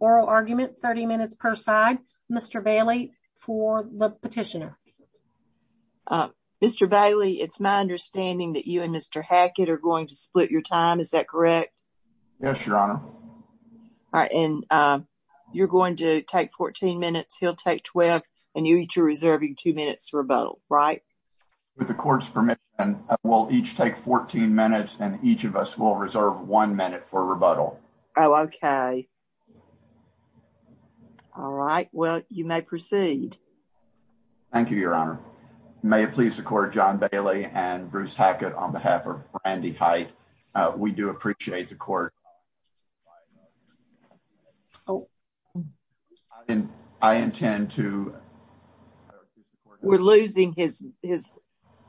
oral argument 30 minutes per side. Mr. Bailey for the petitioner. Mr. Bailey, it's my understanding that you and Mr. Hackett are going to split your time. Is that correct? Yes, your honor. And you're going to take 14 minutes. He'll take 12. And you each are reserving two minutes for a vote. Right. With the court's permit, and we'll each take two minutes for a vote. We'll each take 14 minutes and each of us will reserve one minute for rebuttal. Okay. All right. Well, you may proceed. Thank you, your honor. May it please the court. John Bailey and Bruce Hackett on behalf of Andy. We do appreciate the court. And I intend to. We're losing his.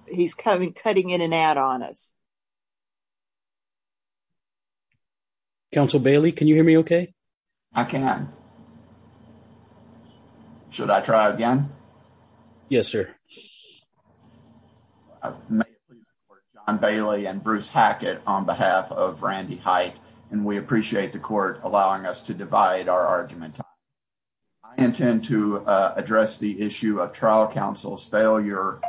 He's cutting in and out on us. Council Bailey, can you hear me? Okay. I can. Should I try again? Yes, sir. Bailey and Bruce Hackett on behalf of Randy height and we appreciate the court allowing us to divide our argument. I intend to address the issue of trial counsel's failure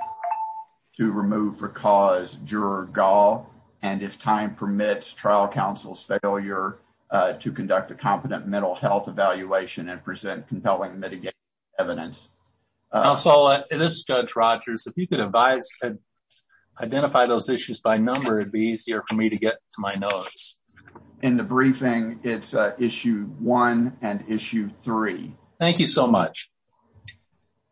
to remove for cause your goal. And if time permits, trial counsel's failure to conduct a competent mental health evaluation and present compelling evidence. Also, it is judge Rogers. If you could advise, identify those issues by number, it'd be easier for me to get to my notes in the briefing. It's issue 1 and issue 3. Thank you so much.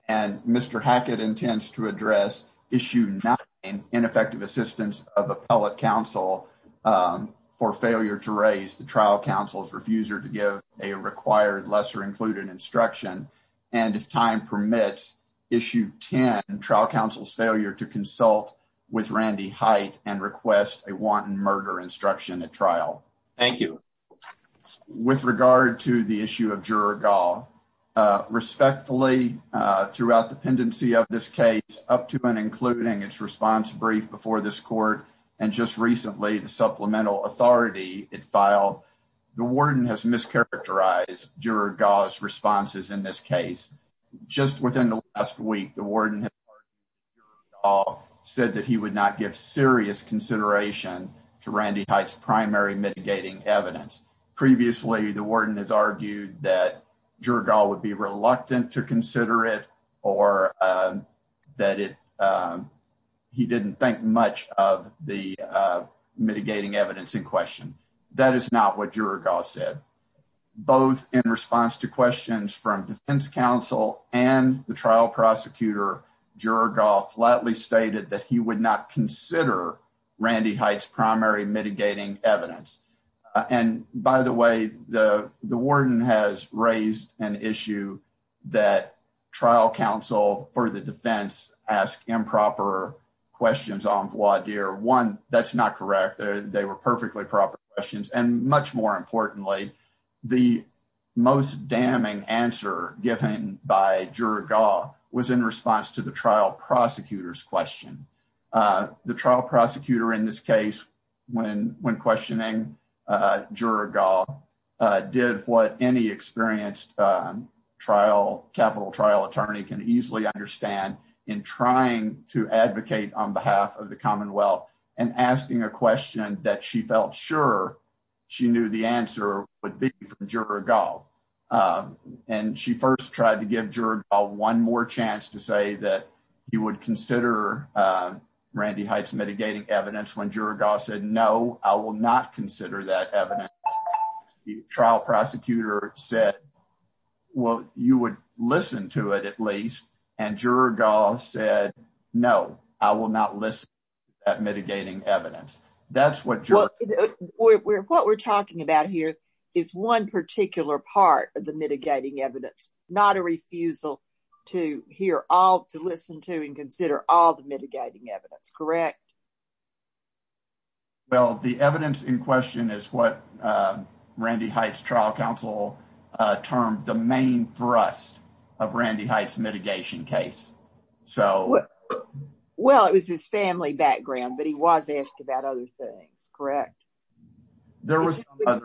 And Mr. Hackett intends to address issue 9, ineffective assistance of appellate counsel for failure to raise the trial counsel's refusal to give a required lesser included instruction. And if time permits. Issue 10 trial counsel's failure to consult with Randy height and request a wanton murder instruction at trial. Thank you. With regard to the issue of juror. Respectfully, throughout the pendency of this case, up to and including its response brief before this court. And just recently, the supplemental authority it filed. The warden has mischaracterized your responses in this case. Just within the last week, the warden said that he would not give serious consideration to Randy heights primary mitigating evidence. Previously, the warden has argued that your goal would be reluctant to consider it or that it. He didn't think much of the mitigating evidence in question. That is not what your gossip, both in response to questions from defense counsel and the trial prosecutor. Juror golf flatly stated that he would not consider Randy heights primary mitigating evidence. And by the way, the warden has raised an issue that trial counsel for the defense ask improper questions. That's not correct. They were perfectly proper questions and much more importantly. The most damning answer given by was in response to the trial prosecutor's question. The trial prosecutor in this case, when, when questioning did what any experienced trial capital trial attorney can easily understand in trying to advocate on behalf of the Commonwealth and asking a question that she felt. Sure. She knew the answer would be your golf and she first tried to give one more chance to say that you would consider Randy heights mitigating evidence when your gossip. No, I will not consider that. The trial prosecutor said, well, you would listen to it at least. And said, no, I will not list mitigating evidence. That's what what we're talking about here is one particular part of the mitigating evidence. Not a refusal to hear all to listen to and consider all the mitigating evidence. Correct? Well, the evidence in question is what Randy heights trial counsel term, the main thrust of Randy heights mitigation case. So, well, it was his family background, but he was asked about other things. Correct? There was a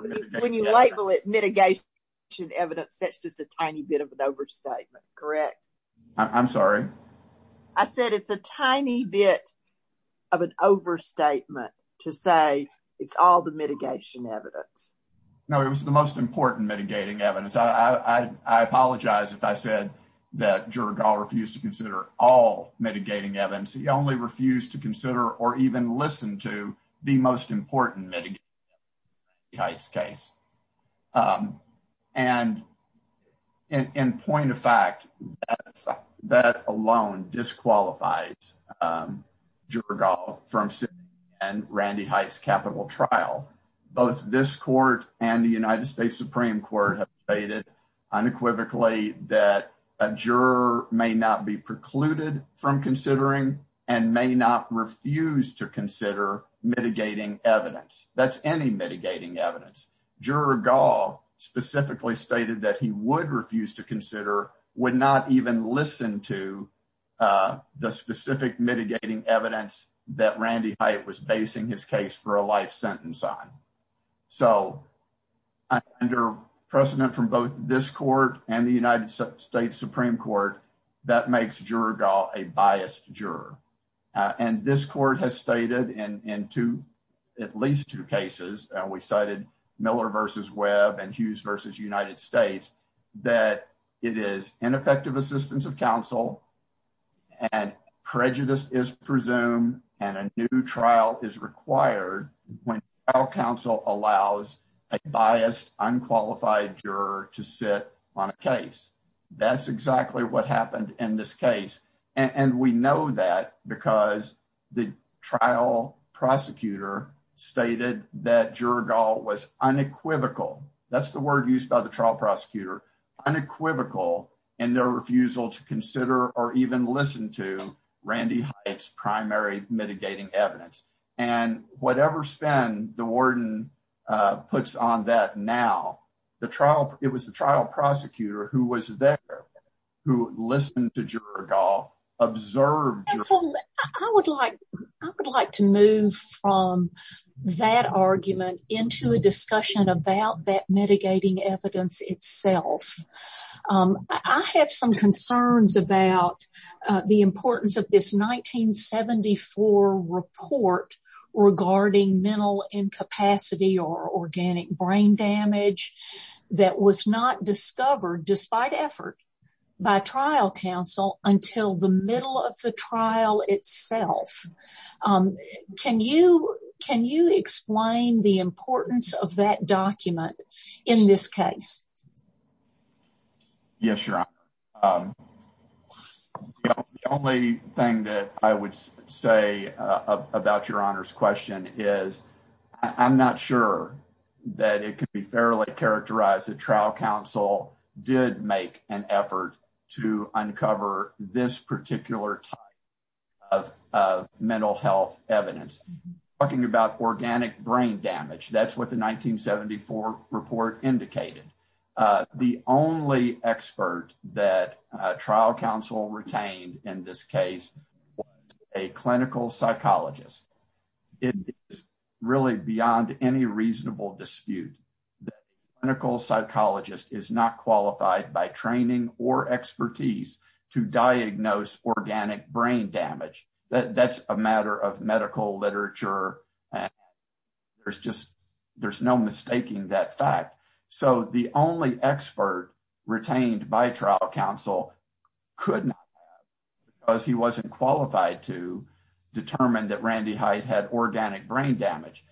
label it mitigation evidence. That's just a tiny bit of an overstatement. Correct? I'm sorry I said, it's a tiny bit of an overstatement to say, it's all the mitigation evidence. No, it was the most important mitigating evidence. I apologize if I said that refused to consider all mitigating evidence. He only refused to consider or even listen to the most important case. And in point of fact, that alone disqualifies from Randy heights capital trial. Both this court, and the United States Supreme Court stated unequivocally that a juror may not be precluded from considering and may not refuse to consider mitigating evidence. That's any mitigating evidence specifically stated that he would refuse to consider would not even listen to the specific mitigating evidence that Randy was basing his case for a life sentence. So, under precedent from both this court, and the United States Supreme Court, that makes a biased juror. And this court has stated and to at least two cases, we cited Miller versus web and Hughes versus United States that it is ineffective assistance of counsel. And prejudice is presumed and a new trial is required when our counsel allows a biased unqualified juror to sit on a case. That's exactly what happened in this case. And we know that because the trial prosecutor stated that was unequivocal. That's the word used by the trial prosecutor unequivocal and no refusal to consider or even listen to Randy primary mitigating evidence and whatever spend the warden puts on that. Now, the trial, it was the trial prosecutor who was there. Listen to observe. I would like to move from that argument into a discussion about that mitigating evidence itself. I have some concerns about the importance of this 1974 report regarding mental incapacity or organic brain damage that was not discovered despite effort by trial counsel until the middle of the trial itself. Can you can you explain the importance of that document in this case. Yes, the only thing that I would say about your honors question is, I'm not sure that it can be fairly characterized. The trial counsel did make an effort to uncover this particular type of mental health evidence talking about organic brain damage. That's what the 1974 report indicated. The only expert that trial counsel retained in this case, a clinical psychologist is really beyond any reasonable dispute. Clinical psychologist is not qualified by training or expertise to diagnose organic brain damage. That's a matter of medical literature. There's just there's no mistaking that fact. So, the only expert retained by trial counsel could he wasn't qualified to determine that Randy Hyde had organic brain damage.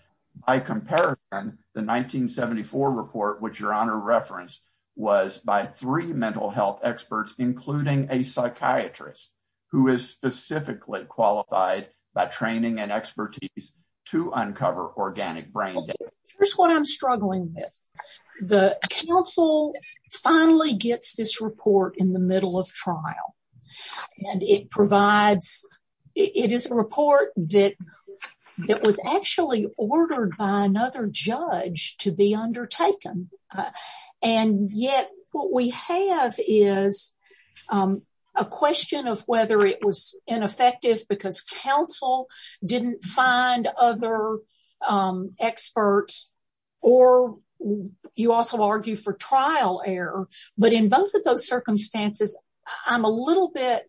I compare the 1974 report, which your honor reference was by three mental health experts, including a psychiatrist who is specifically qualified by training and expertise to uncover organic brain. Here's what I'm struggling with. The counsel finally gets this report in the middle of trial, and it provides it is a report that was actually ordered by another judge to be undertaken. And yet what we have is a question of whether it was ineffective because counsel didn't find other experts or you also argue for trial error. But in both of those circumstances, I'm a little bit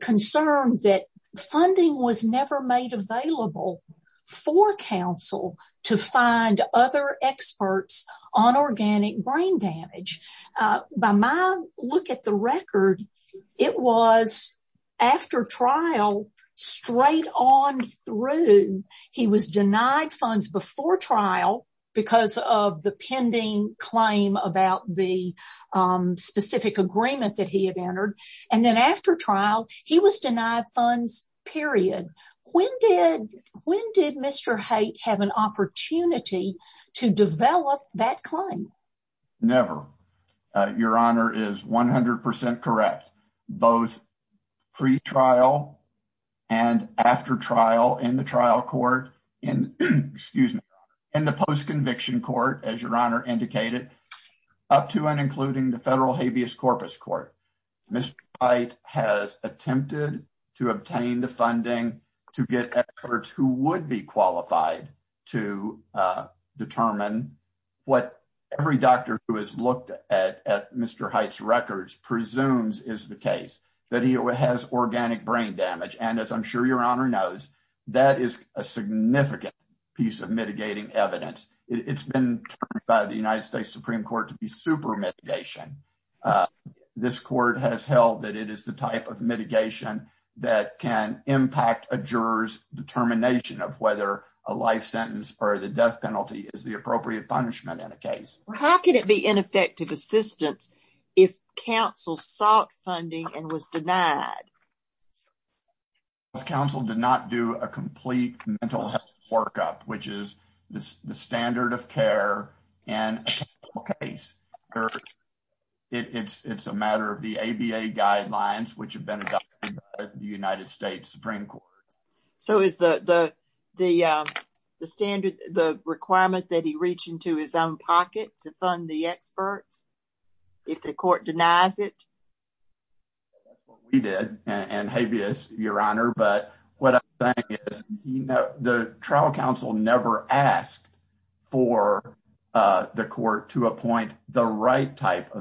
concerned that funding was never made available for counsel to find other experts on organic brain damage. By my look at the record, it was after trial, straight on through, he was denied funds before trial because of the pending claim about the specific agreement that he had entered. And then after trial, he was denied funds, period. When did Mr. Hyde have an opportunity to develop that claim? Never. Your honor is 100% correct. Both pre-trial and after trial in the trial court, excuse me, in the post-conviction court, as your honor indicated, up to and including the federal habeas corpus court. Mr. Hyde has attempted to obtain the funding to get experts who would be qualified to determine what every doctor who has looked at Mr. Hyde's records presumes is the case. That he has organic brain damage. And as I'm sure your honor knows, that is a significant piece of mitigating evidence. It's been termed by the United States Supreme Court to be super mitigation. This court has held that it is the type of mitigation that can impact a juror's determination of whether a life sentence or the death penalty is the appropriate punishment in a case. How can it be ineffective assistance if counsel sought funding and was denied? Counsel did not do a complete mental health workup, which is the standard of care. And it's a matter of the ABA guidelines, which have been adopted by the United States Supreme Court. So, is the standard, the requirements that he reached into his own pocket to fund the expert? If the court denies it? We did and habeas your honor. But what the trial counsel never asked for the court to appoint the right type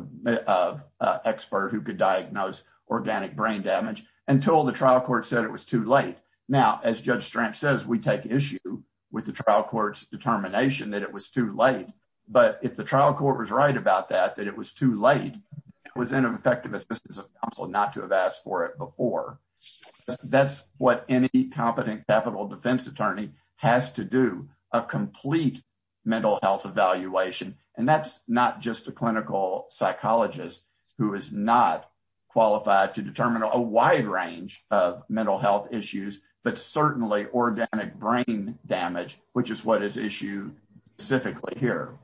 of expert who could diagnose organic brain damage until the trial court said it was too late. Now, as judge says, we take issue with the trial court's determination that it was too late. But if the trial court was right about that, that it was too late, it was ineffective assistance of counsel not to have asked for it before. That's what any competent capital defense attorney has to do, a complete mental health evaluation. And that's not just a clinical psychologist who is not qualified to determine a wide range of mental health issues, but certainly organic brain damage, which is what is issue specifically here.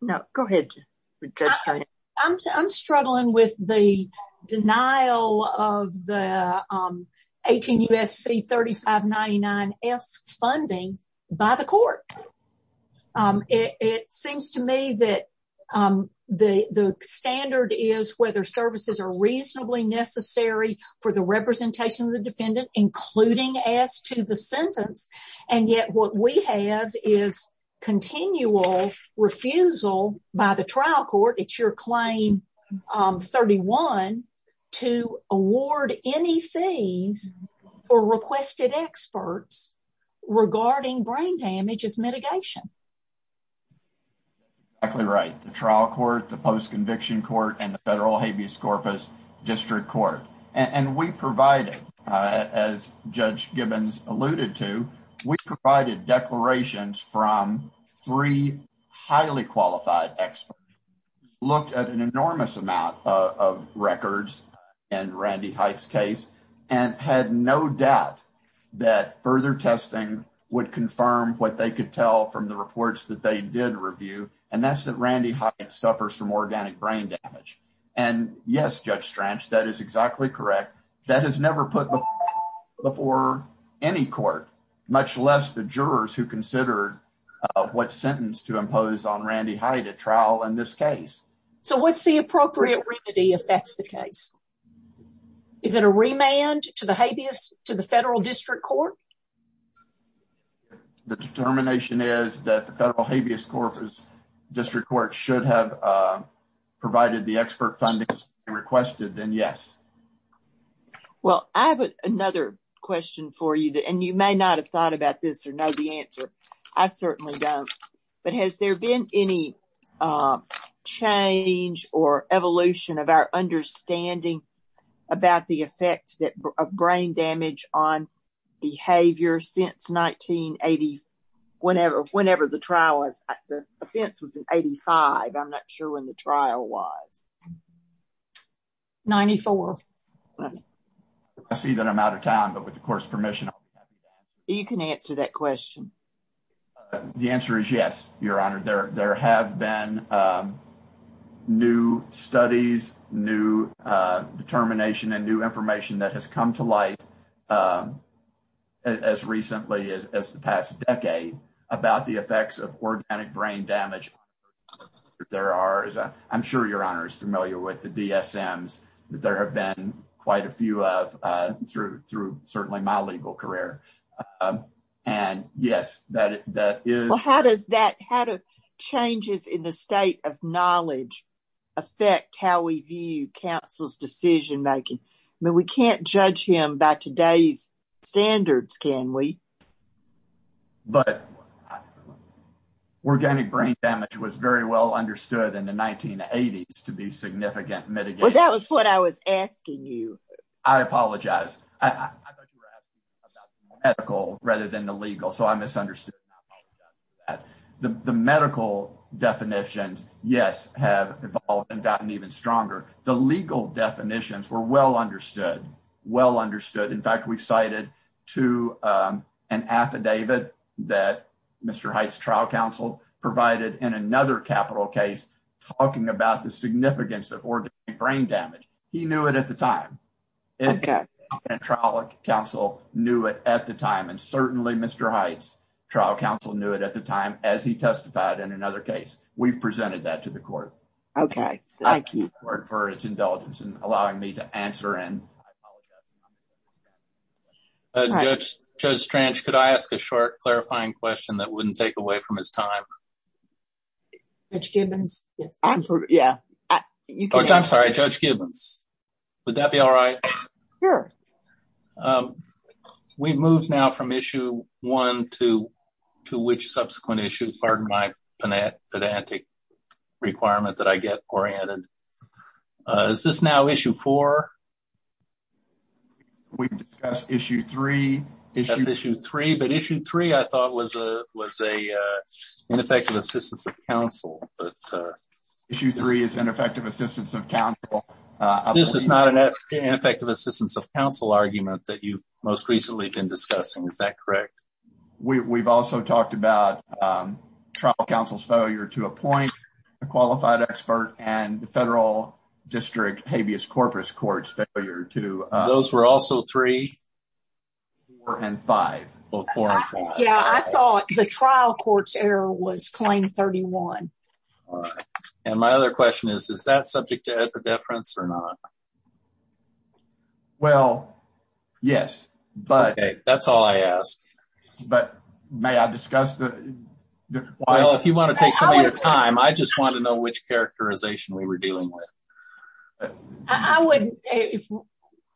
No, go ahead. I'm struggling with the denial of the 18 U.S.C. 3599 funding by the court. It seems to me that the standard is whether services are reasonably necessary for the representation of the defendant, including as to the sentence. And yet what we have is continual refusal by the trial court, it's your claim 31, to award any fees for requested experts regarding brain damage as mitigation. Exactly right. The trial court, the post conviction court, and the federal habeas corpus district court. And we provided, as judge Gibbons alluded to, we provided declarations from three highly qualified experts. We looked at an enormous amount of records in Randy Hyde's case and had no doubt that further testing would confirm what they could tell from the reports that they did review. And that's that Randy Hyde suffers from organic brain damage. And, yes, judge, that is exactly correct. That has never put before any court, much less the jurors who considered what sentence to impose on Randy Hyde at trial in this case. So, what's the appropriate remedy if that's the case? Is it a remand to the habeas to the federal district court? The determination is that the federal habeas corpus district court should have provided the expert funding requested, then yes. Well, I have another question for you, and you may not have thought about this or know the answer. I certainly don't. But has there been any change or evolution of our understanding about the effects of brain damage on behavior since 1980? Whenever, whenever the trial was, the offense was in 85. I'm not sure when the trial was. 94. I see that I'm out of time, but with, of course, permission, you can answer that question. The answer is, yes, your honor there. There have been new studies, new determination and new information that has come to light as recently as the past decade about the effects of organic brain damage. There are, I'm sure your honor is familiar with the there have been quite a few through certainly my legal career. And, yes, that is. How does that how to changes in the state of knowledge affect how we view councils decision making? I mean, we can't judge him back today standards. Can we. But organic brain damage was very well understood in the 1980s to be significant. But that was what I was asking you. I apologize. Medical rather than the legal. So, I misunderstood the medical definition. Yes, have evolved and gotten even stronger. The legal definitions were well understood. Well understood. In fact, we cited to an affidavit that Mr. Heights trial counsel provided in another capital case talking about the significance of organic brain damage. He knew it at the time. Counsel knew it at the time. And certainly Mr. Heights trial counsel knew it at the time as he testified in another case. We presented that to the court. Okay. Thank you for his indulgence in allowing me to answer. And. Could I ask a short clarifying question that wouldn't take away from his time? Yeah, I'm sorry. Would that be all right? We move now from issue 1 to 2, which subsequent issues are my. Requirement that I get or is this now issue for. Issue 3 issue 3, but issue 3, I thought was a was a ineffective assistance of counsel. Issue 3 is an effective assistance of counsel. This is not an effective assistance of counsel argument that you most recently can discuss. And is that correct? We've also talked about trial counsel's failure to appoint a qualified expert and the federal district habeas corpus courts failure to those were also 3. And 5. Yeah, I thought the trial court's error was claim 31. And my other question is, is that subject to the difference or not? Well, yes, but that's all I ask. But may I discuss that? Well, if you want to take some of your time, I just want to know which characterization we were dealing with. I wouldn't.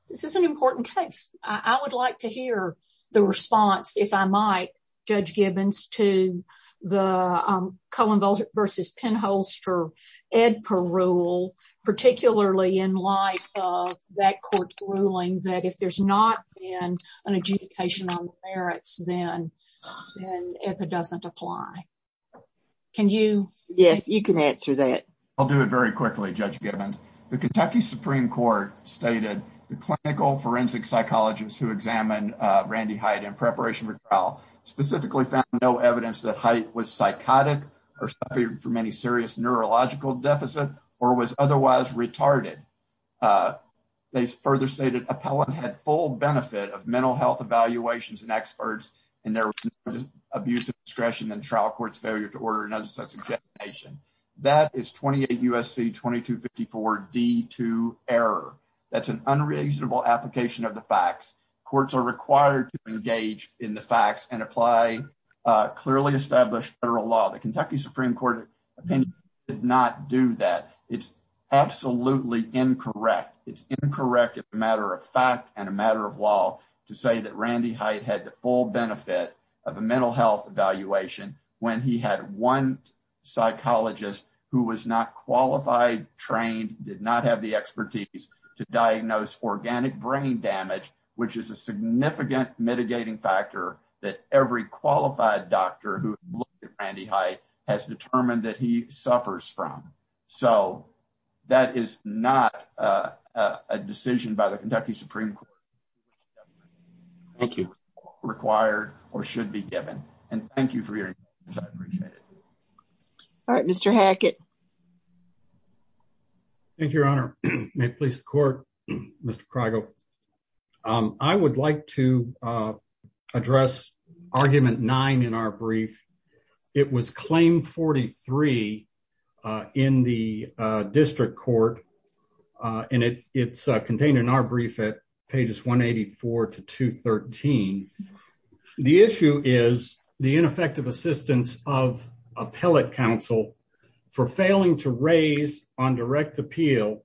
This is an important text. I would like to hear the response. If I might judge Gibbons to the Cohen versus pinholster ed per rule, particularly in light of that court's ruling that if there's not an adjudication on the merits, then if it doesn't apply. Can you? Yes, you can answer that. I'll do it very quickly. Judge Gibbons, the Kentucky Supreme Court stated the clinical forensic psychologist who examined Randy height in preparation for trial specifically found no evidence that height was psychotic or from any serious neurological deficit or was otherwise retarded. They further stated appellant had full benefit of mental health evaluations and experts and there was abuse of discretion and trial court's failure to order. That is twenty eight U. S. C. twenty two fifty four D, two error. That's an unreasonable application of the facts. Courts are required to engage in the facts and apply clearly established federal law. The Kentucky Supreme Court did not do that. It's absolutely incorrect. It's incorrect. It's a matter of fact and a matter of law to say that Randy height had the full benefit of a mental health evaluation when he had one psychologist who was not qualified, trained, did not have the expertise to diagnose organic brain damage, which is a significant mitigating factor that every qualified doctor who Randy height has determined that he suffers from. So that is not a decision by the Kentucky Supreme. Thank you. Required or should be given. And thank you for your. All right, Mr. Hackett. Thank you, Your Honor. I would like to address argument nine in our brief. It was claimed forty three in the district court and it's contained in our brief at pages one eighty four to two thirteen. The issue is the ineffective assistance of appellate counsel for failing to raise on direct appeal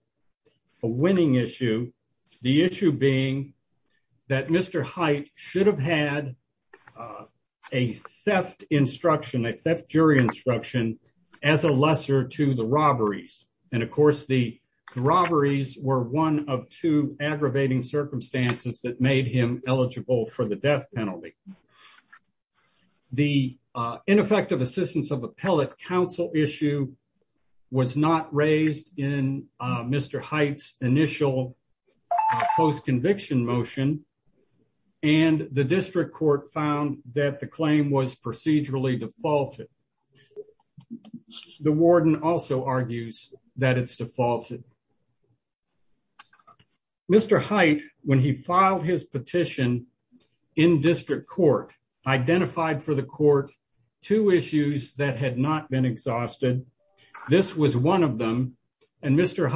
a winning issue. The issue being that Mr. Height should have had a theft instruction that jury instruction as a lesser to the robberies. And of course, the robberies were one of two aggravating circumstances that made him eligible for the death penalty. The ineffective assistance of appellate counsel issue was not raised in Mr. Heights initial post conviction motion. And the district court found that the claim was procedurally defaulted. The warden also argues that it's defaulted. Mr. Heights, when he filed his petition in district court, identified for the court two issues that had not been exhausted. This was one of them. And Mr.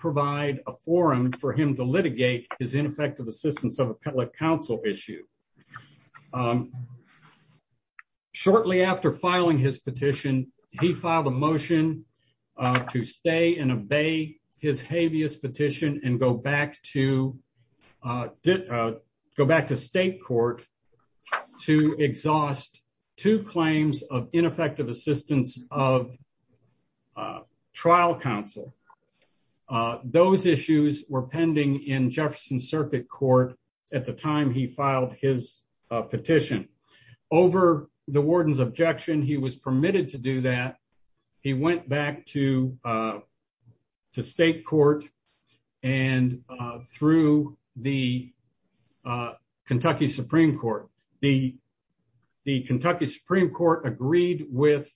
provide a forum for him to litigate his ineffective assistance of appellate counsel issue. Shortly after filing his petition, he filed a motion to stay and obey his habeas petition and go back to go back to state court to exhaust two claims of ineffective assistance of trial counsel. Those issues were pending in Jefferson circuit court. At the time, he filed his petition over the warden's objection. He was permitted to do that. He went back to the state court and through the Kentucky Supreme Court. The Kentucky Supreme Court agreed with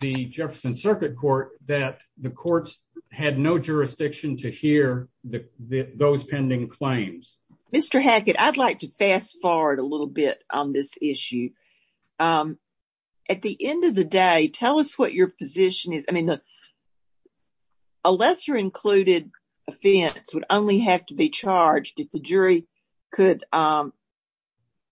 the Jefferson circuit court that the courts had no jurisdiction to hear those pending claims. Mr. Hackett, I'd like to fast forward a little bit on this issue. At the end of the day, tell us what your position is. I mean, unless you're included, it would only have to be charged if the jury could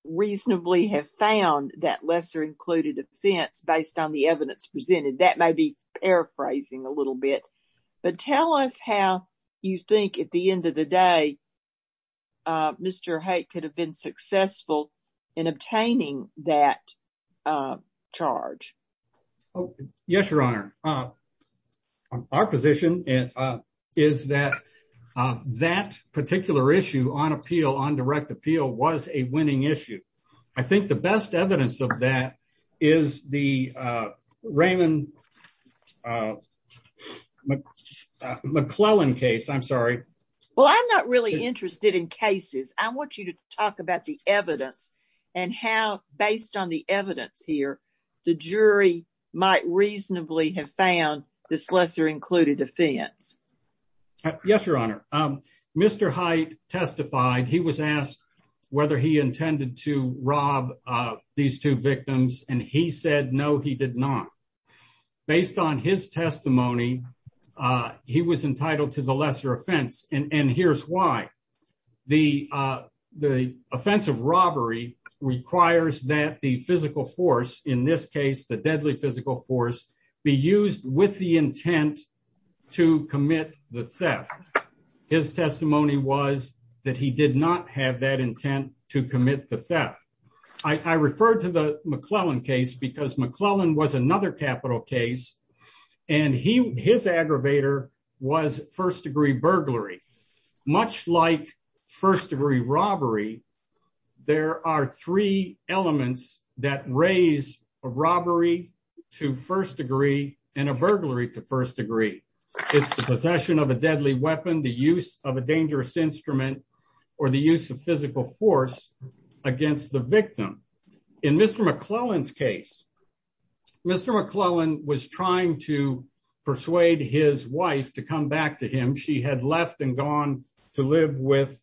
reasonably have found that lesser included offense based on the evidence presented. That may be paraphrasing a little bit, but tell us how you think at the end of the day. Mr. Hey, could have been successful in obtaining that charge. Yes, your honor. Our position is that that particular issue on appeal on direct appeal was a winning issue. I think the best evidence of that is the Raymond McClellan case. I'm sorry. Well, I'm not really interested in cases. I want you to talk about the evidence and how, based on the evidence here, the jury might reasonably have found this lesser included defense. Yes, your honor. Mr. Height testified. He was asked whether he intended to rob these two victims and he said, no, he did not based on his testimony. He was entitled to the lesser offense. And here's why the, the offensive robbery requires that the physical force in this case, the deadly physical force be used with the intent to commit the theft. His testimony was that he did not have that intent to commit the theft. I referred to the McClellan case because McClellan was another capital case and he, his aggravator was first degree burglary, much like first degree robbery. There are three elements that raise a robbery to first degree and a burglary to first degree. It's the possession of a deadly weapon, the use of a dangerous instrument, or the use of physical force against the victim. In Mr. McClellan's case, Mr. McClellan persuaded his wife to come back to him. She had left and gone to live with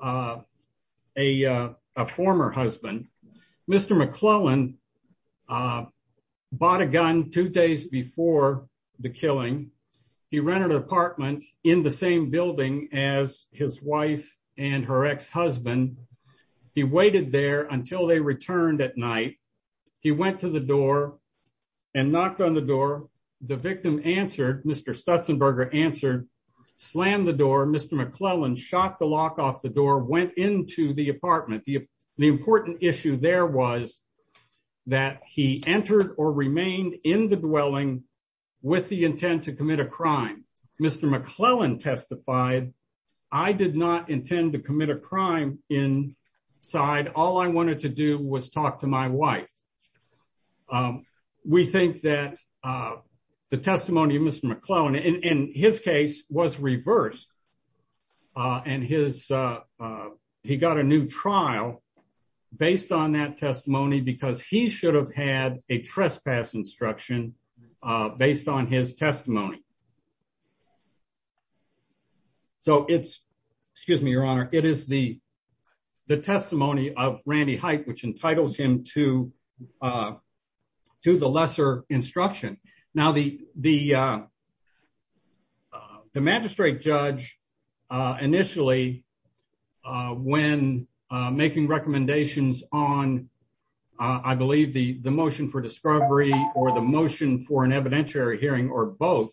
a former husband. Mr. McClellan bought a gun two days before the killing. He rented an apartment in the same building as his wife and her ex-husband. He waited there until they returned at night. He went to the door and knocked on the door. The victim answered, Mr. Stutzenberger answered, slammed the door, Mr. McClellan shot the lock off the door, went into the apartment. The important issue there was that he entered or remained in the dwelling with the intent to commit a crime. Mr. McClellan testified, I did not intend to commit a crime inside. All I wanted to do was talk to my wife. We think that the testimony of Mr. McClellan in his case was reversed. He got a new trial based on that testimony because he should have had a trespass instruction based on his testimony. It is the testimony of Randy Hite which entitles him to the lesser instruction. The magistrate judge initially, when making recommendations on the motion for discovery or the motion for an evidentiary hearing or both,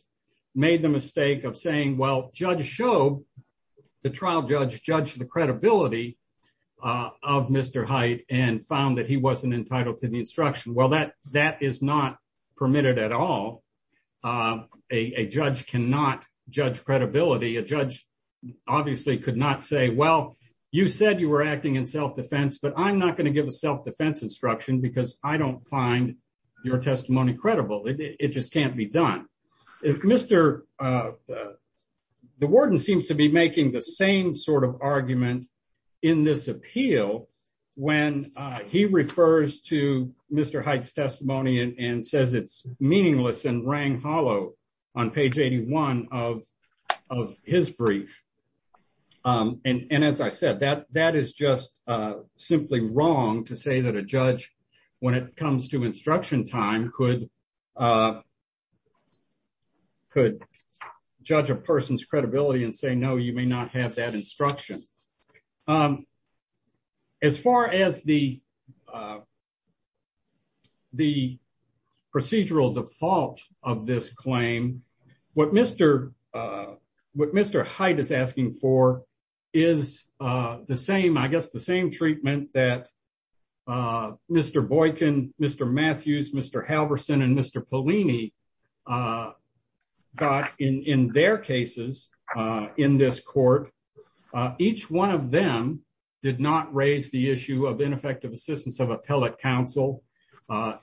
made the mistake of saying the trial judge judged the credibility of Mr. Hite and found that he wasn't entitled to the instruction. That is not permitted at all. A judge cannot judge credibility. A judge obviously could not say, well, you said you were acting in self-defense, but I'm not going to give a self-defense instruction because I don't find your testimony credible. It just can't be done. The warden seems to be making the same sort of argument in this appeal when he refers to Mr. Hite's testimony and says it is meaningless and rang hollow on page 81 of his brief. As I said, that is just simply wrong to say that a judge, when it comes to instruction time, could judge a person's credibility and say, no, you may not have that instruction. As far as the procedural default of this claim, what Mr. Hite is asking for is the same, I guess, the same treatment that Mr. Boykin, Mr. Matthews, Mr. Halverson, and Mr. Polini got in their cases in this court. Each one of them did not raise the issue of ineffective assistance of appellate counsel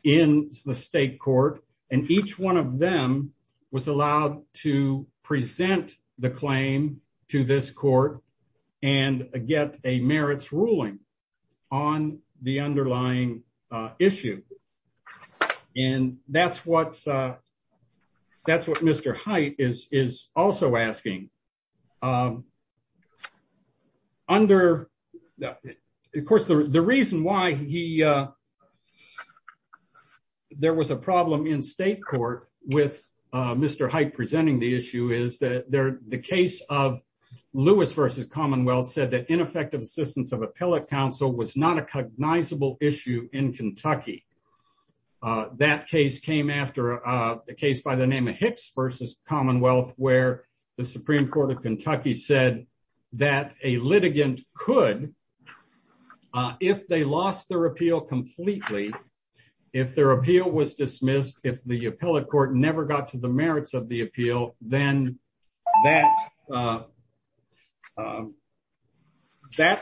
in the state court. And each one of them was allowed to present the claim to this court and get a merits ruling on the underlying issue. And that's what Mr. Hite is also asking. Of course, the reason why there was a problem in state court with Mr. Hite presenting the issue is that the case of Lewis v. Commonwealth said that ineffective assistance of appellate counsel was not a cognizable issue in Kentucky. That case came after a case by the name of Hicks v. Commonwealth, where the Supreme Court of Kentucky said that a litigant could, if they lost their appeal completely, if their appeal was dismissed, if the appellate court never got to the merits of the appeal, then that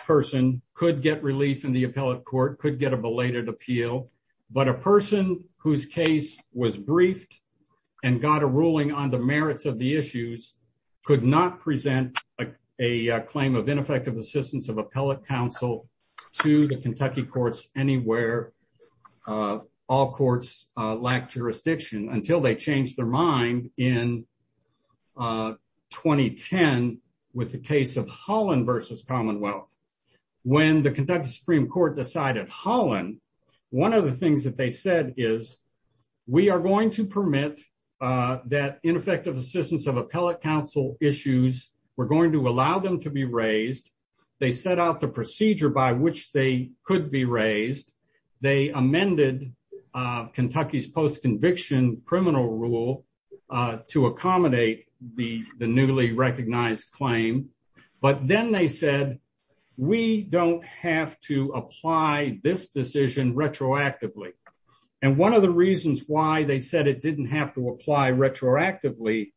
person could get relief in the appellate court, could get a belated appeal. But a person whose case was briefed and got a ruling on the merits of the issues could not present a claim of ineffective assistance of appellate counsel to the Kentucky courts anywhere. All courts lacked jurisdiction until they changed their mind in 2010 with the case of Holland v. Commonwealth. When the Kentucky Supreme Court decided Holland, one of the things that they said is, we are going to permit that ineffective assistance of appellate counsel issues. We're going to allow them to be raised. They set out the procedure by which they could be raised. They amended Kentucky's post-conviction criminal rule to accommodate the newly recognized claim. But then they said, we don't have to apply this decision retroactively. And one of the reasons why they said it didn't have to apply retroactively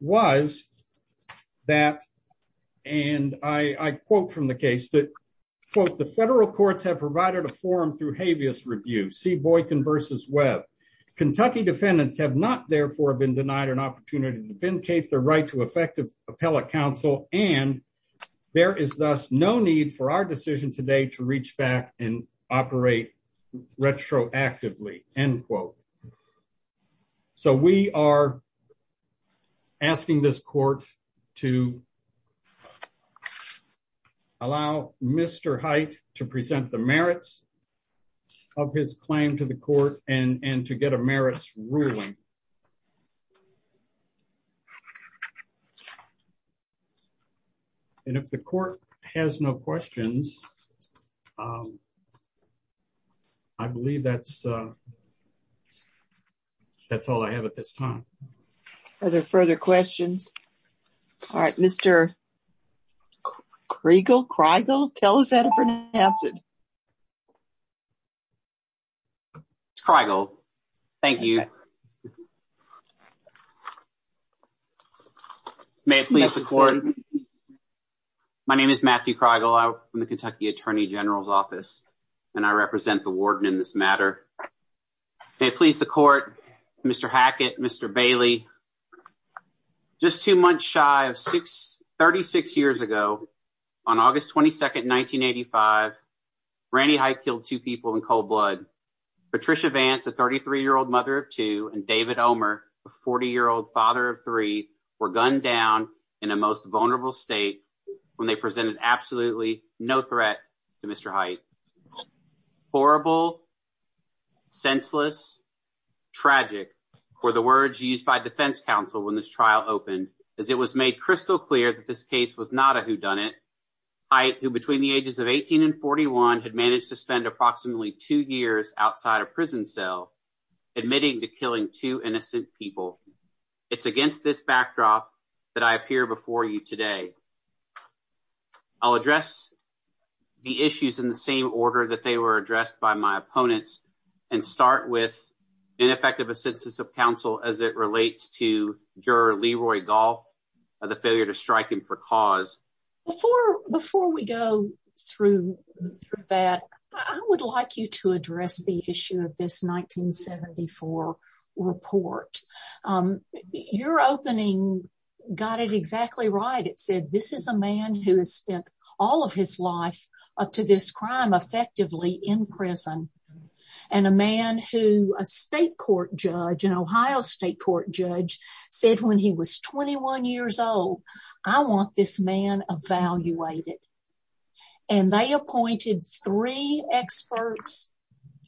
was that, and I quote from the case that, quote, the federal courts have provided a forum through habeas review, C. Boykin v. Webb. Kentucky defendants have not, therefore, been denied an opportunity to vindicate their right to effective appellate counsel, and there is thus no need for our decision today to reach back and operate retroactively, end quote. So we are asking this court to allow Mr. Hite to present the merits of his claim to the court and to get a merits ruling. And if the court has no questions, I believe that's all I have at this time. Are there further questions? All right, Mr. Kriegel, Kriegel, tell us how to pronounce it. Mr. Kriegel, thank you. May it please the court, my name is Matthew Kriegel. I'm from the Kentucky Attorney General's office, and I represent the warden in this matter. May it please the court, Mr. Hackett, Mr. Bailey, just two months shy of 36 years ago, on August 22nd, 1985, Randy Hite killed two people in cold blood. Patricia Vance, a 33-year-old mother of two, and David Omer, a 40-year-old father of three, were gunned down in a most vulnerable state when they presented absolutely no threat to Mr. Hite. Horrible, senseless, tragic were the words used by defense counsel when this trial opened, as it was made crystal clear that this case was not a whodunit. Hite, who between the ages of 18 and 41, had managed to spend approximately two years outside a prison cell, admitting to killing two innocent people. It's against this backdrop that I appear before you today. I'll address the issues in the same order that they were addressed by my opponents, and start with ineffective assistance of counsel as it relates to juror Leroy Gahl, and the failure to strike him for cause. Before we go through that, I would like you to address the issue of this 1974 report. Your opening got it exactly right. It said, this is a man who has spent all of his life up to this crime, effectively in prison, and a man who a state court judge, an Ohio state court judge, said when he was 21 years old, I want this man evaluated. And they appointed three experts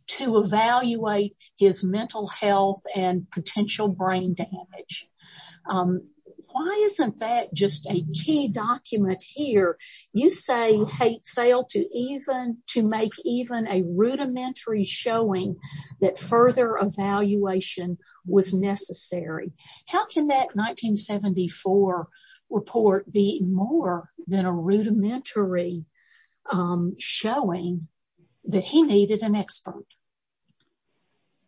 to evaluate his mental health and potential brain damage. Why isn't that just a key document here? You say Hite failed to make even a rudimentary showing that further evaluation was necessary. How can that 1974 report be more than a rudimentary showing that he needed an expert?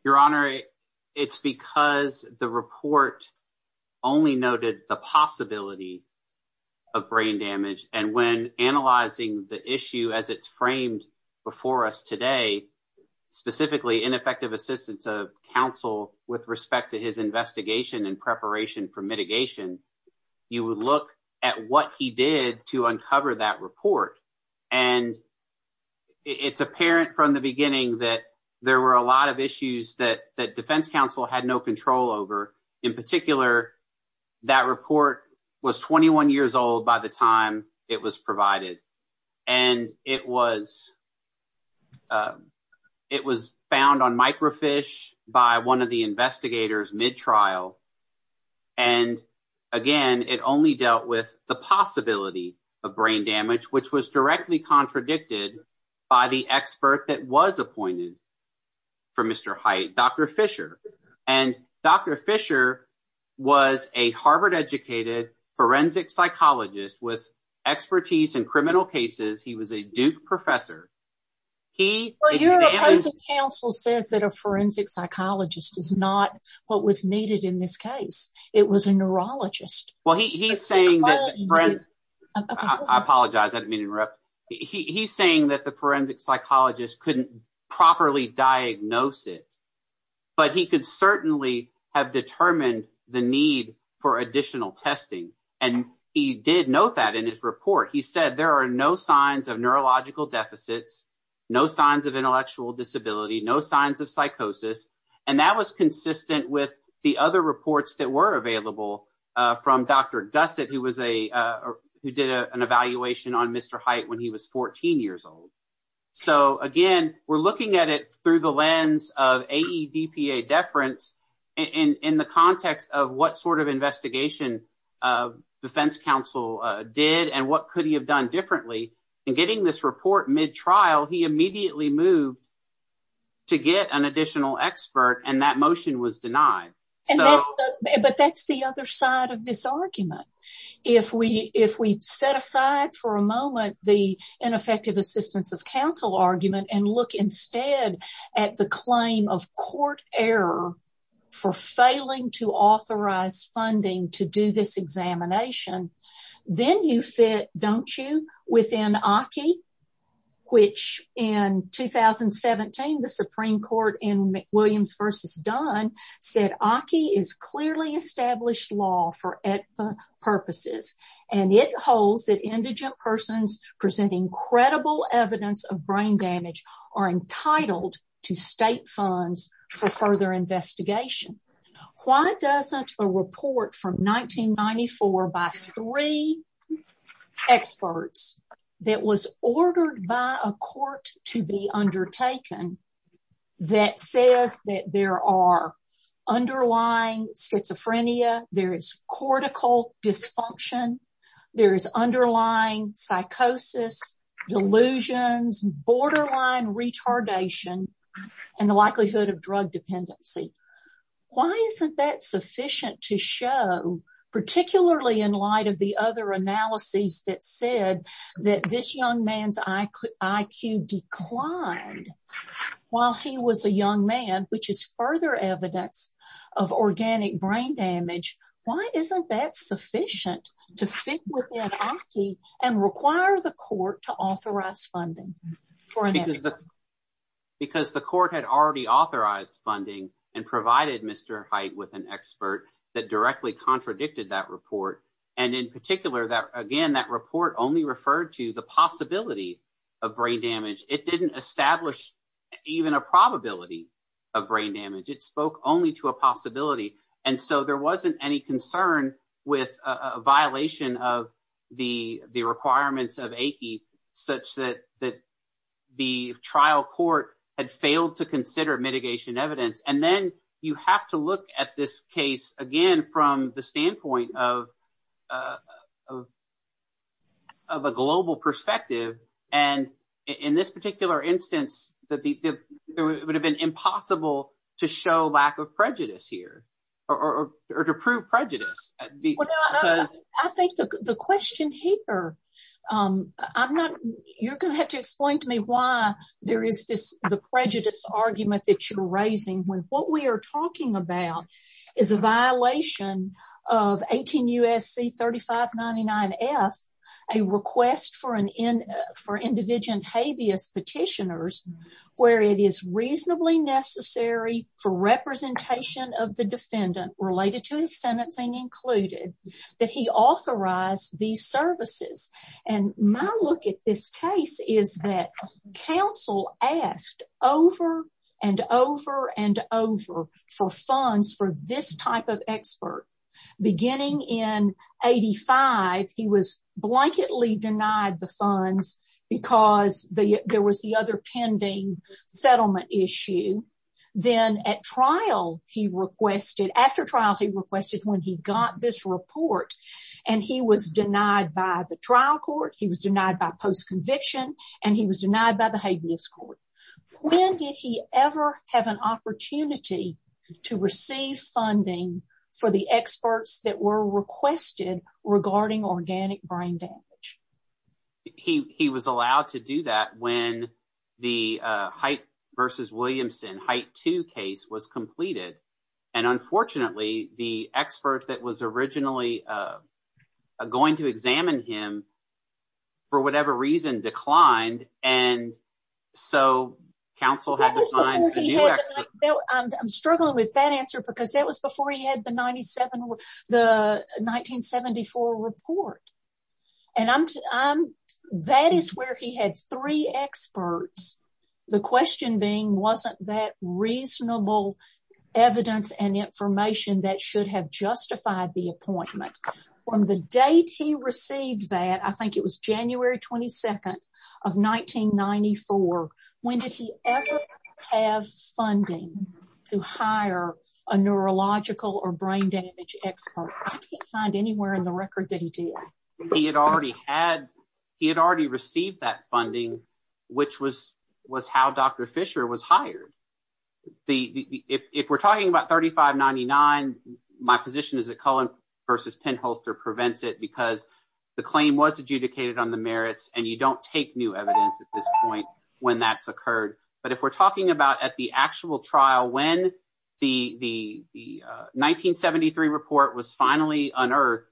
Your Honor, it's because the report only noted the possibility of brain damage, and when analyzing the issue as it's framed before us today, specifically ineffective assistance of counsel with respect to his investigation and preparation for mitigation, you would look at what he did to uncover that report. And it's apparent from the beginning that there were a lot of issues that the defense counsel had no control over. In particular, that report was 21 years old by the time it was provided. And it was found on microfiche by one of the investigators mid-trial. And again, it only dealt with the possibility of brain damage, which was directly contradicted by the expert that was appointed for Mr. Hite, Dr. Fisher. And Dr. Fisher was a Harvard-educated forensic psychologist with expertise in criminal cases. He was a Duke professor. Your counsel said that a forensic psychologist is not what was needed in this case. It was a neurologist. I apologize. I didn't mean to interrupt. He's saying that the forensic psychologist couldn't properly diagnose it, but he could certainly have determined the need for additional testing. And he did note that in his report. He said there are no signs of neurological deficits, no signs of intellectual disability, no signs of psychosis. And that was consistent with the other reports that were available from Dr. Gusset, who did an evaluation on Mr. Hite when he was 14 years old. So, again, we're looking at it through the lens of AEDPA deference in the context of what sort of investigation the defense counsel did and what could he have done differently. In getting this report mid-trial, he immediately moved to get an additional expert, and that motion was denied. But that's the other side of this argument. If we set aside for a moment the ineffective assistance of counsel argument and look instead at the claim of court error for failing to authorize funding to do this examination, then you fit, don't you, within ACCI, which in 2017, the Supreme Court in McWilliams v. Dunn said ACCI is clearly established law for AEDPA purposes. And it holds that indigent persons presenting credible evidence of brain damage are entitled to state funds for further investigation. Why doesn't a report from 1994 by three experts that was ordered by a court to be undertaken that says that there are underlying schizophrenia, there is cortical dysfunction, there is underlying psychosis, delusions, borderline retardation, and the likelihood of drug dependency? Why isn't that sufficient to show, particularly in light of the other analyses that said that this young man's IQ declined while he was a young man, which is further evidence of organic brain damage, why isn't that sufficient to fit within ACCI and require the court to authorize funding? Because the court had already authorized funding and provided Mr. Haidt with an expert that directly contradicted that report. And in particular, again, that report only referred to the possibility of brain damage. It didn't establish even a probability of brain damage. It spoke only to a possibility. And so there wasn't any concern with a violation of the requirements of ACCI such that the trial court had failed to consider mitigation evidence. And then you have to look at this case, again, from the standpoint of a global perspective. And in this particular instance, it would have been impossible to show lack of prejudice here or to prove prejudice. I think the question here, I'm not, you're going to have to explain to me why there is this prejudice argument that you're raising when what we are talking about is a violation of 18 U.S.C. 3599F, a request for an individual's habeas petitioners, where it is reasonably necessary for representation of the defendant related to his sentencing included, that he authorize these services. And my look at this case is that counsel asked over and over and over for funds for this type of expert. Beginning in 85, he was blanketly denied the funds because there was the other pending settlement issue. Then at trial, he requested, after trial, he requested when he got this report and he was denied by the trial court, he was denied by post-conviction, and he was denied by the habeas court. When did he ever have an opportunity to receive funding for the experts that were requested regarding organic brain damage? He was allowed to do that when the Height v. Williamson, Height 2 case was completed. And unfortunately, the expert that was originally going to examine him, for whatever reason, declined. And so counsel had to find a new expert. I'm struggling with that answer because that was before he had the 1974 report. And that is where he had three experts. The question being, wasn't that reasonable evidence and information that should have justified the appointment? From the date he received that, I think it was January 22nd of 1994, when did he ever have funding to hire a neurological or brain damage expert? I can't find anywhere in the record that he did. He had already received that funding, which was how Dr. Fisher was hired. If we're talking about 3599, my position is that Cullen v. Penn Holster prevents it because the claim was adjudicated on the merits and you don't take new evidence at this point when that's occurred. But if we're talking about at the actual trial, when the 1973 report was finally unearthed,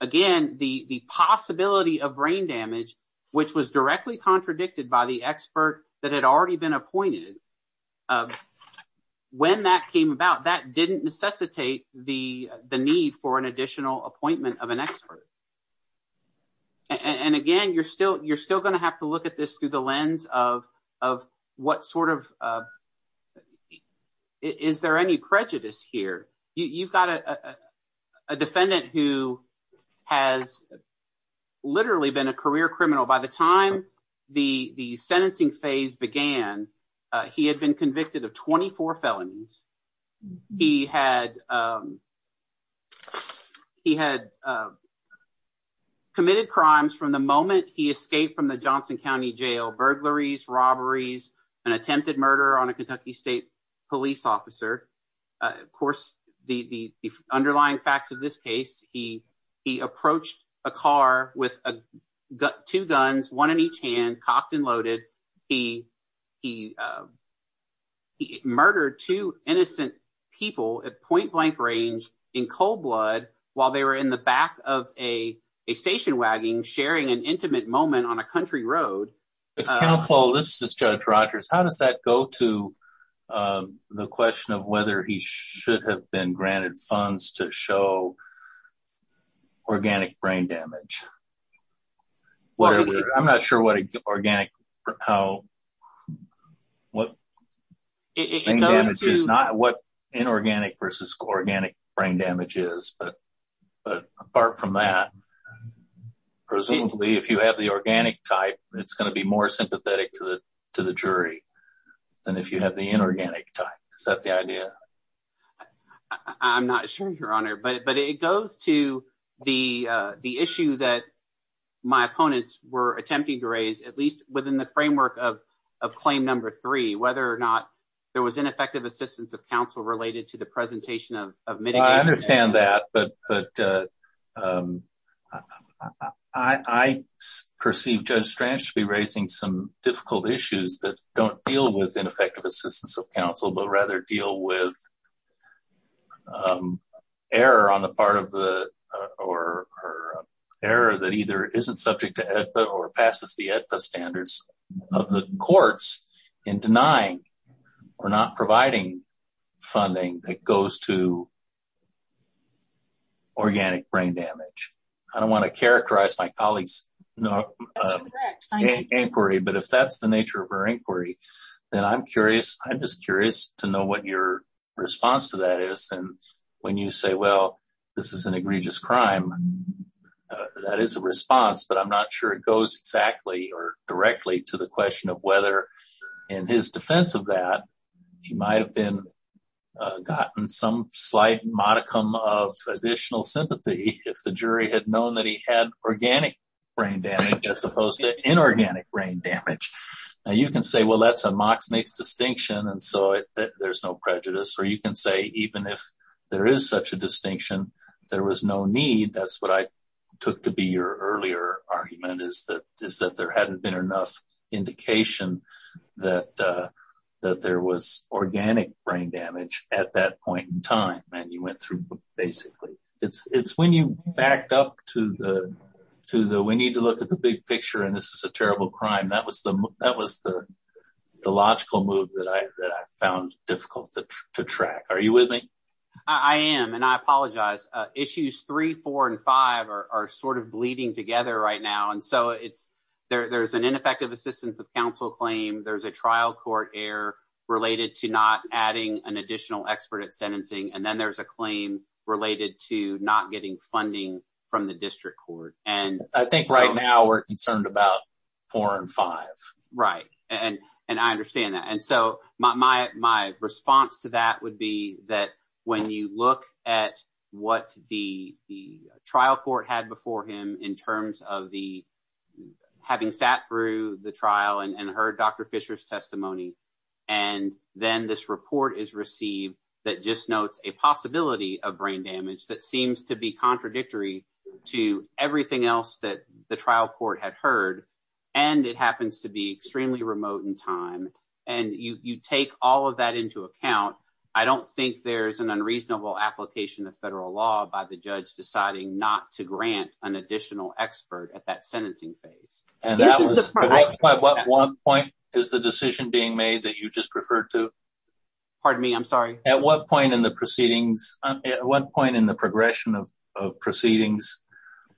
again, the possibility of brain damage, which was directly contradicted by the expert that had already been appointed, when that came about, that didn't necessitate the need for an additional appointment of an expert. And again, you're still going to have to look at this through the lens of what sort of – is there any prejudice here? You've got a defendant who has literally been a career criminal. By the time the sentencing phase began, he had been convicted of 24 felonies. He had committed crimes from the moment he escaped from the Johnson County Jail – burglaries, robberies, an attempted murder on a Kentucky State police officer. Of course, the underlying facts of this case, he approached a car with two guns, one in each hand, cocked and loaded. He murdered two innocent people at point-blank range in cold blood while they were in the back of a station wagon sharing an intimate moment on a country road. Judge Rogers, how does that go to the question of whether he should have been granted funds to show organic brain damage? I'm not sure what inorganic versus organic brain damage is, but apart from that, presumably, if you have the organic type, it's going to be more sympathetic to the jury than if you have the inorganic type. Is that the idea? I'm not sure, Your Honor, but it goes to the issue that my opponents were attempting to raise, at least within the framework of claim number three, whether or not there was ineffective assistance of counsel related to the presentation of mitigation. I understand that, but I perceive Judge Strange to be raising some difficult issues that don't deal with ineffective assistance of counsel, but rather deal with error that either isn't subject to AEDPA or passes the AEDPA standards of the courts in denying or not providing funding that goes to organic brain damage. I don't want to characterize my colleague's inquiry, but if that's the nature of her inquiry, then I'm just curious to know what your response to that is. And when you say, well, this is an egregious crime, that is a response, but I'm not sure it goes exactly or directly to the question of whether, in his defense of that, he might have gotten some slight modicum of additional sympathy if the jury had known that he had organic brain damage as opposed to inorganic brain damage. Now, you can say, well, that's a mock makes distinction, and so there's no prejudice. Or you can say, even if there is such a distinction, there was no need, that's what I took to be your earlier argument, is that there hadn't been enough indication that there was organic brain damage at that point in time. It's when you backed up to the, we need to look at the big picture and this is a terrible crime, that was the logical move that I found difficult to track. Are you with me? I am, and I apologize. Issues three, four, and five are sort of bleeding together right now. And so, there's an ineffective assistance of counsel claim, there's a trial court error related to not adding an additional expert at sentencing, and then there's a claim related to not getting funding from the district court. And I think right now we're concerned about four and five. Right, and I understand that. And so, my response to that would be that when you look at what the trial court had before him in terms of having sat through the trial and heard Dr. Fisher's testimony, and then this report is received that just notes a possibility of brain damage that seems to be contradictory to everything else that the trial court had heard, and it happens to be extremely remote in time, and you take all of that into account, I don't think there's an unreasonable application of federal law by the judge deciding not to grant an additional expert at that sentencing phase. At what point is the decision being made that you just referred to? At what point in the proceedings, at what point in the progression of proceedings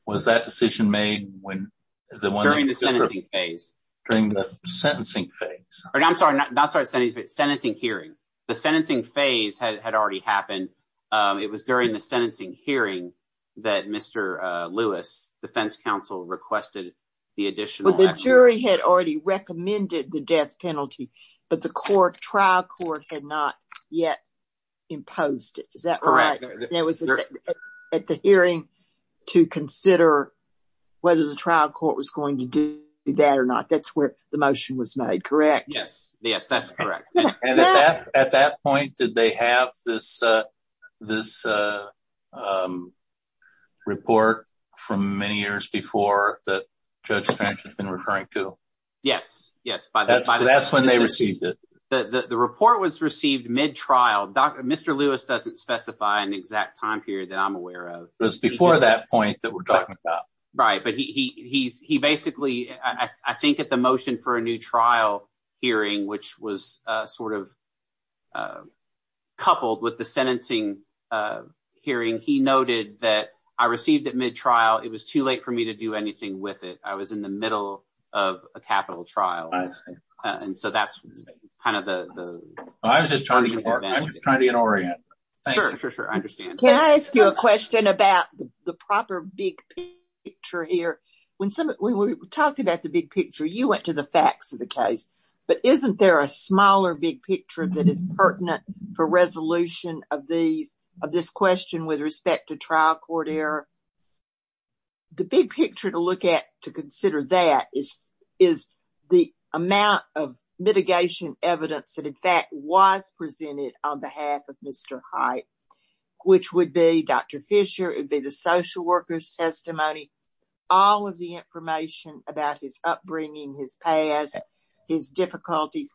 was that decision made when the one- During the sentencing phase. During the sentencing phase. I'm sorry, not sentencing, but sentencing hearing. The sentencing phase had already happened. It was during the sentencing hearing that Mr. Lewis, defense counsel, requested the additional- Well, the jury had already recommended the death penalty, but the trial court had not yet imposed it. Is that right? Correct. And it was at the hearing to consider whether the trial court was going to do that or not. That's where the motion was made, correct? Yes, that's correct. And at that point, did they have this report from many years before that Judge Sanchez had been referring to? Yes, yes. That's when they received it. The report was received mid-trial. Mr. Lewis doesn't specify an exact time period that I'm aware of. It was before that point that we're talking about. Right, but he basically- I think at the motion for a new trial hearing, which was sort of coupled with the sentencing hearing, he noted that I received it mid-trial. It was too late for me to do anything with it. I was in the middle of a capital trial. I understand. And so that's kind of the- I was just trying to get oriented. Sure, sure, sure. I understand. Can I ask you a question about the proper big picture here? When we were talking about the big picture, you went to the facts of the case. But isn't there a smaller big picture that is pertinent for resolution of this question with respect to trial court error? The big picture to look at to consider that is the amount of litigation evidence that, in fact, was presented on behalf of Mr. Hite, which would be Dr. Fisher, it would be the social worker's testimony, all of the information about his upbringing, his past, his difficulties.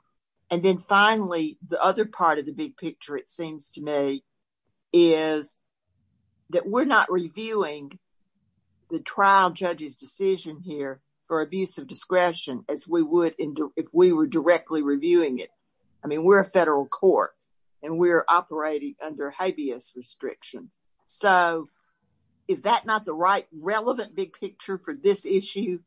And then finally, the other part of the big picture, it seems to me, is that we're not reviewing the trial judge's decision here for abuse of discretion as we would if we were directly reviewing it. I mean, we're a federal court, and we're operating under habeas restriction. So is that not the right relevant big picture for this issue?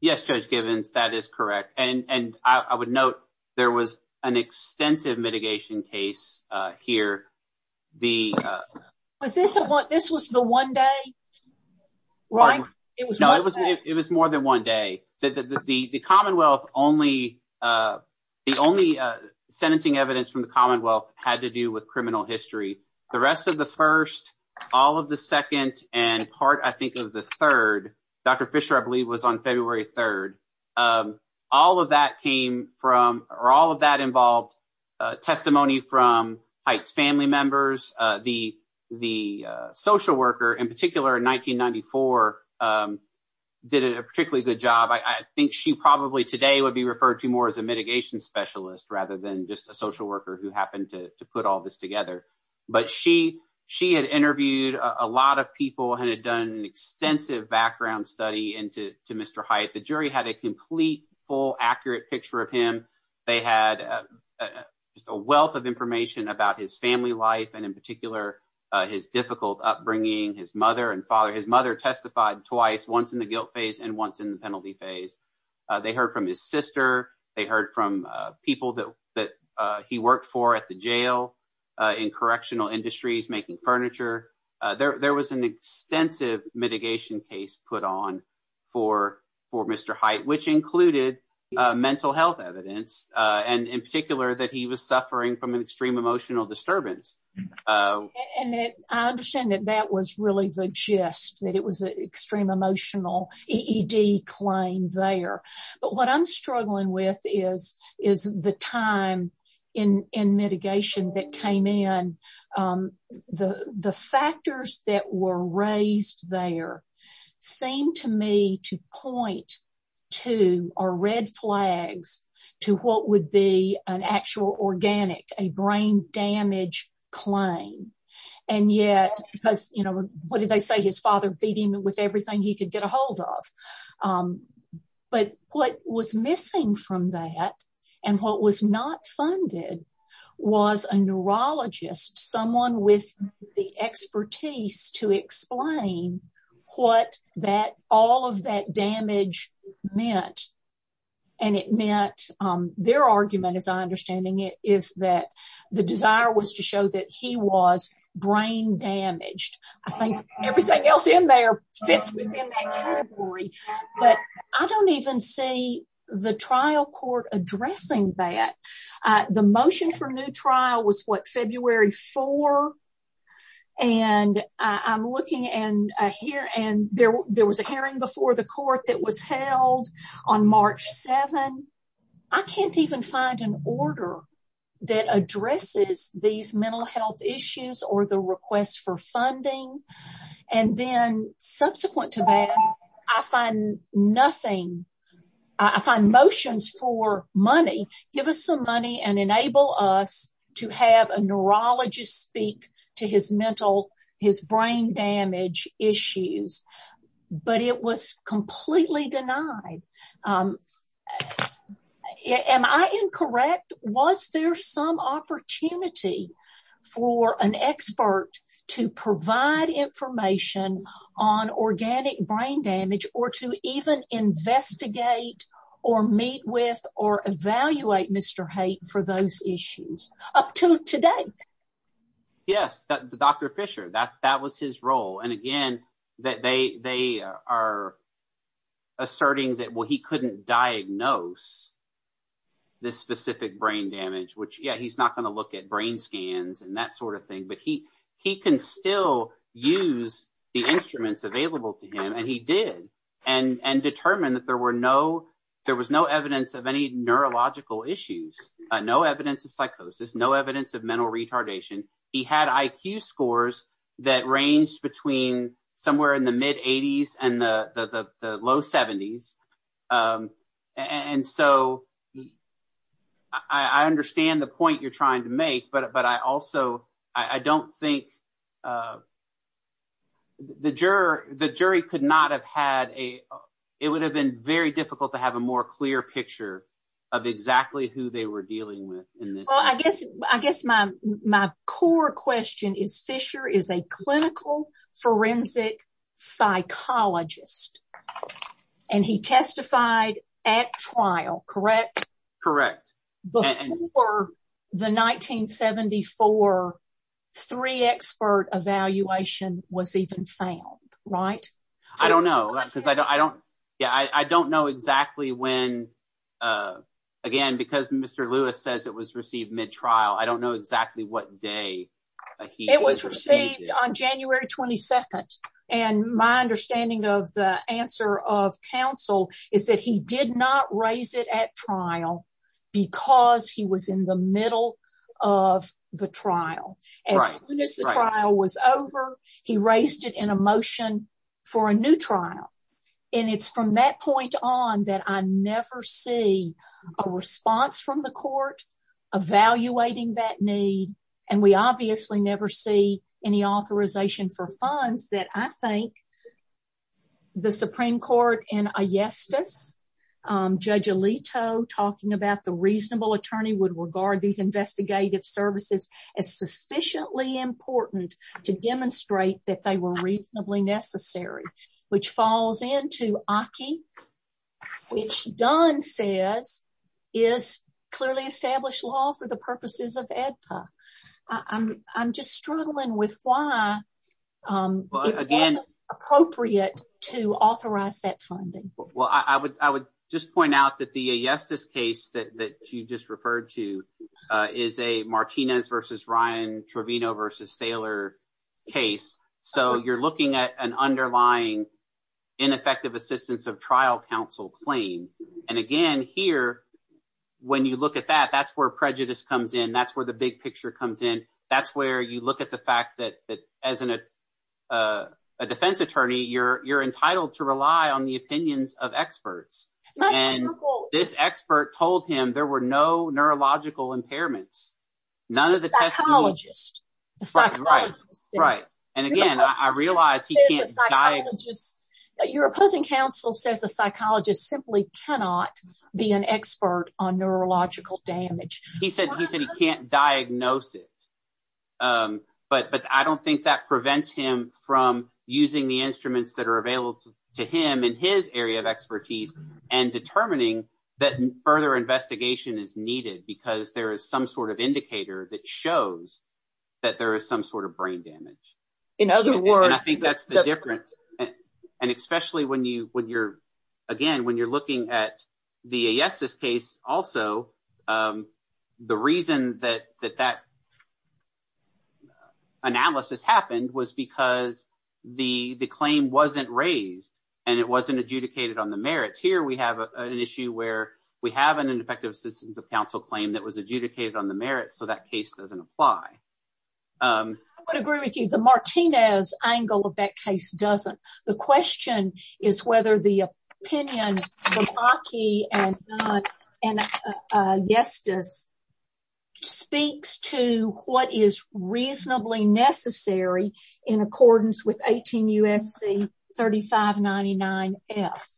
Yes, Judge Givens, that is correct. And I would note there was an extensive mitigation case here. This was the one day, right? No, it was more than one day. The Commonwealth, the only sentencing evidence from the Commonwealth had to do with criminal history. The rest of the first, all of the second, and part, I think, of the third, Dr. Fisher, I believe, was on February 3rd. All of that came from, or all of that involved testimony from Hite's family members. The social worker, in particular, in 1994, did a particularly good job. I think she probably today would be referred to more as a mitigation specialist rather than just a social worker who happened to put all this together. But she had interviewed a lot of people and had done an extensive background study into Mr. Hite. The jury had a complete, full, accurate picture of him. They had a wealth of information about his family life and, in particular, his difficult upbringing. His mother testified twice, once in the guilt phase and once in the penalty phase. They heard from his sister. They heard from people that he worked for at the jail in correctional industries, making furniture. There was an extensive mitigation case put on for Mr. Hite, which included mental health evidence and, in particular, that he was suffering from an extreme emotional disturbance. And I understand that that was really the gist, that it was an extreme emotional EED claim there. But what I'm struggling with is the time in mitigation that came in. The factors that were raised there seemed to me to point to, or red flags, to what would be an actual organic, a brain damage claim. And yet, because, you know, what did they say, his father beating him with everything he could get a hold of. But what was missing from that, and what was not funded, was a neurologist, someone with the expertise to explain what all of that damage meant. And it meant, their argument, as I understand it, is that the desire was to show that he was brain damaged. I think everything else in there fits within that category. But I don't even see the trial court addressing that. The motion for new trial was, what, February 4? And I'm looking, and there was a hearing before the court that was held on March 7. I can't even find an order that addresses these mental health issues or the request for funding. And then, subsequent to that, I find nothing. I find motions for money. Give us some money and enable us to have a neurologist speak to his mental, his brain damage issues. But it was completely denied. Am I incorrect? Was there some opportunity for an expert to provide information on organic brain damage or to even investigate or meet with or evaluate Mr. Haight for those issues? Up to today. Yes, Dr. Fisher, that was his role. And again, they are asserting that, well, he couldn't diagnose this specific brain damage, which, yeah, he's not going to look at brain scans and that sort of thing. But he can still use the instruments available to him, and he did, and determined that there was no evidence of any neurological issues, no evidence of psychosis, no evidence of mental retardation. And he had IQ scores that ranged between somewhere in the mid-80s and the low 70s. And so, I understand the point you're trying to make, but I also, I don't think, the jury could not have had a, it would have been very difficult to have a more clear picture of exactly who they were dealing with. Well, I guess my core question is, Fisher is a clinical forensic psychologist, and he testified at trial, correct? Correct. Before the 1974 three-expert evaluation was even found, right? I don't know, because I don't, yeah, I don't know exactly when, again, because Mr. Lewis says it was received mid-trial, I don't know exactly what day he was received. It was received on January 22nd, and my understanding of the answer of counsel is that he did not raise it at trial because he was in the middle of the trial. Right, right. As soon as the trial was over, he raised it in a motion for a new trial. And it's from that point on that I never see a response from the court evaluating that need, and we obviously never see any authorization for funds that I think the Supreme Court in Ayesda, Judge Alito talking about the reasonable attorney would regard these investigated services as suspicious. They were sufficiently important to demonstrate that they were reasonably necessary, which falls into Aki, which Dunn said is clearly established law for the purposes of ADPA. I'm just struggling with why it's inappropriate to authorize that funding. Well, I would just point out that the Ayesda case that you just referred to is a Martinez v. Ryan, Torvino v. Thaler case. So you're looking at an underlying ineffective assistance of trial counsel claim. And again, here, when you look at that, that's where prejudice comes in. That's where the big picture comes in. That's where you look at the fact that as a defense attorney, you're entitled to rely on the opinions of experts. And this expert told him there were no neurological impairments. Psychologists. Right. And again, I realize he can't diagnose it. Your opposing counsel says a psychologist simply cannot be an expert on neurological damage. He said he can't diagnose it. But I don't think that prevents him from using the instruments that are available to him in his area of expertise and determining that further investigation is needed because there is some sort of indicator that shows that there is some sort of brain damage. In other words, I think that's the difference. And especially when you when you're again, when you're looking at the Ayesda case, also, the reason that that analysis happened was because the claim wasn't raised and it wasn't adjudicated on the merits. Here, we have an issue where we have an ineffective assistance of counsel claim that was adjudicated on the merits. So that case doesn't apply. I would agree with you. The Martinez angle of that case doesn't. The question is whether the opinion of Bakke and Ayesda speaks to what is reasonably necessary in accordance with 18 U.S.C. 3599-F.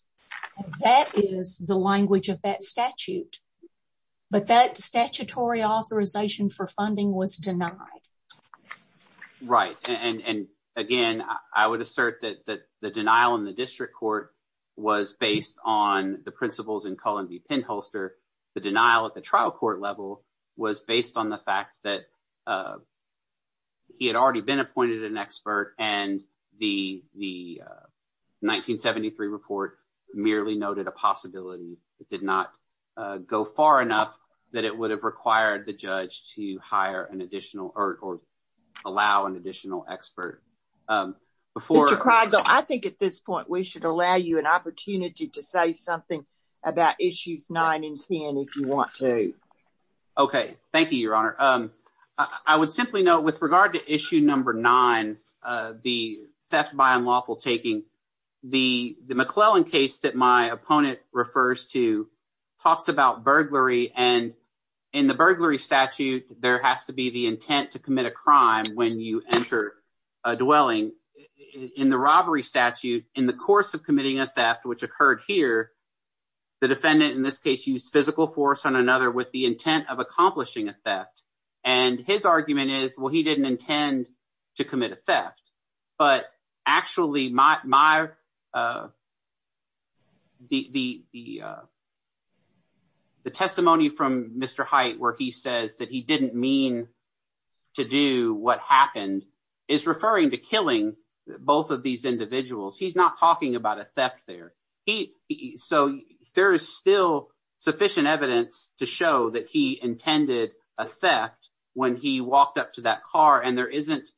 That is the language of that statute. But that statutory authorization for funding was denied. Right. And again, I would assert that the denial in the district court was based on the principles in Cullen v. Penholster. The denial at the trial court level was based on the fact that he had already been appointed an expert and the 1973 report merely noted a possibility. It did not go far enough that it would have required the judge to hire an additional or allow an additional expert. I think at this point, we should allow you an opportunity to say something about issues 9 and 10 if you want to. Okay. Thank you, Your Honor. I would simply note with regard to issue number 9, the theft by unlawful taking, the McClellan case that my opponent refers to talks about burglary. And in the burglary statute, there has to be the intent to commit a crime when you enter a dwelling. In the robbery statute, in the course of committing a theft, which occurred here, the defendant in this case used physical force on another with the intent of accomplishing a theft. And his argument is, well, he didn't intend to commit a theft. But actually, the testimony from Mr. Hite where he says that he didn't mean to do what happened is referring to killing both of these individuals. He's not talking about a theft there. So, there is still sufficient evidence to show that he intended a theft when he walked up to that car. And there isn't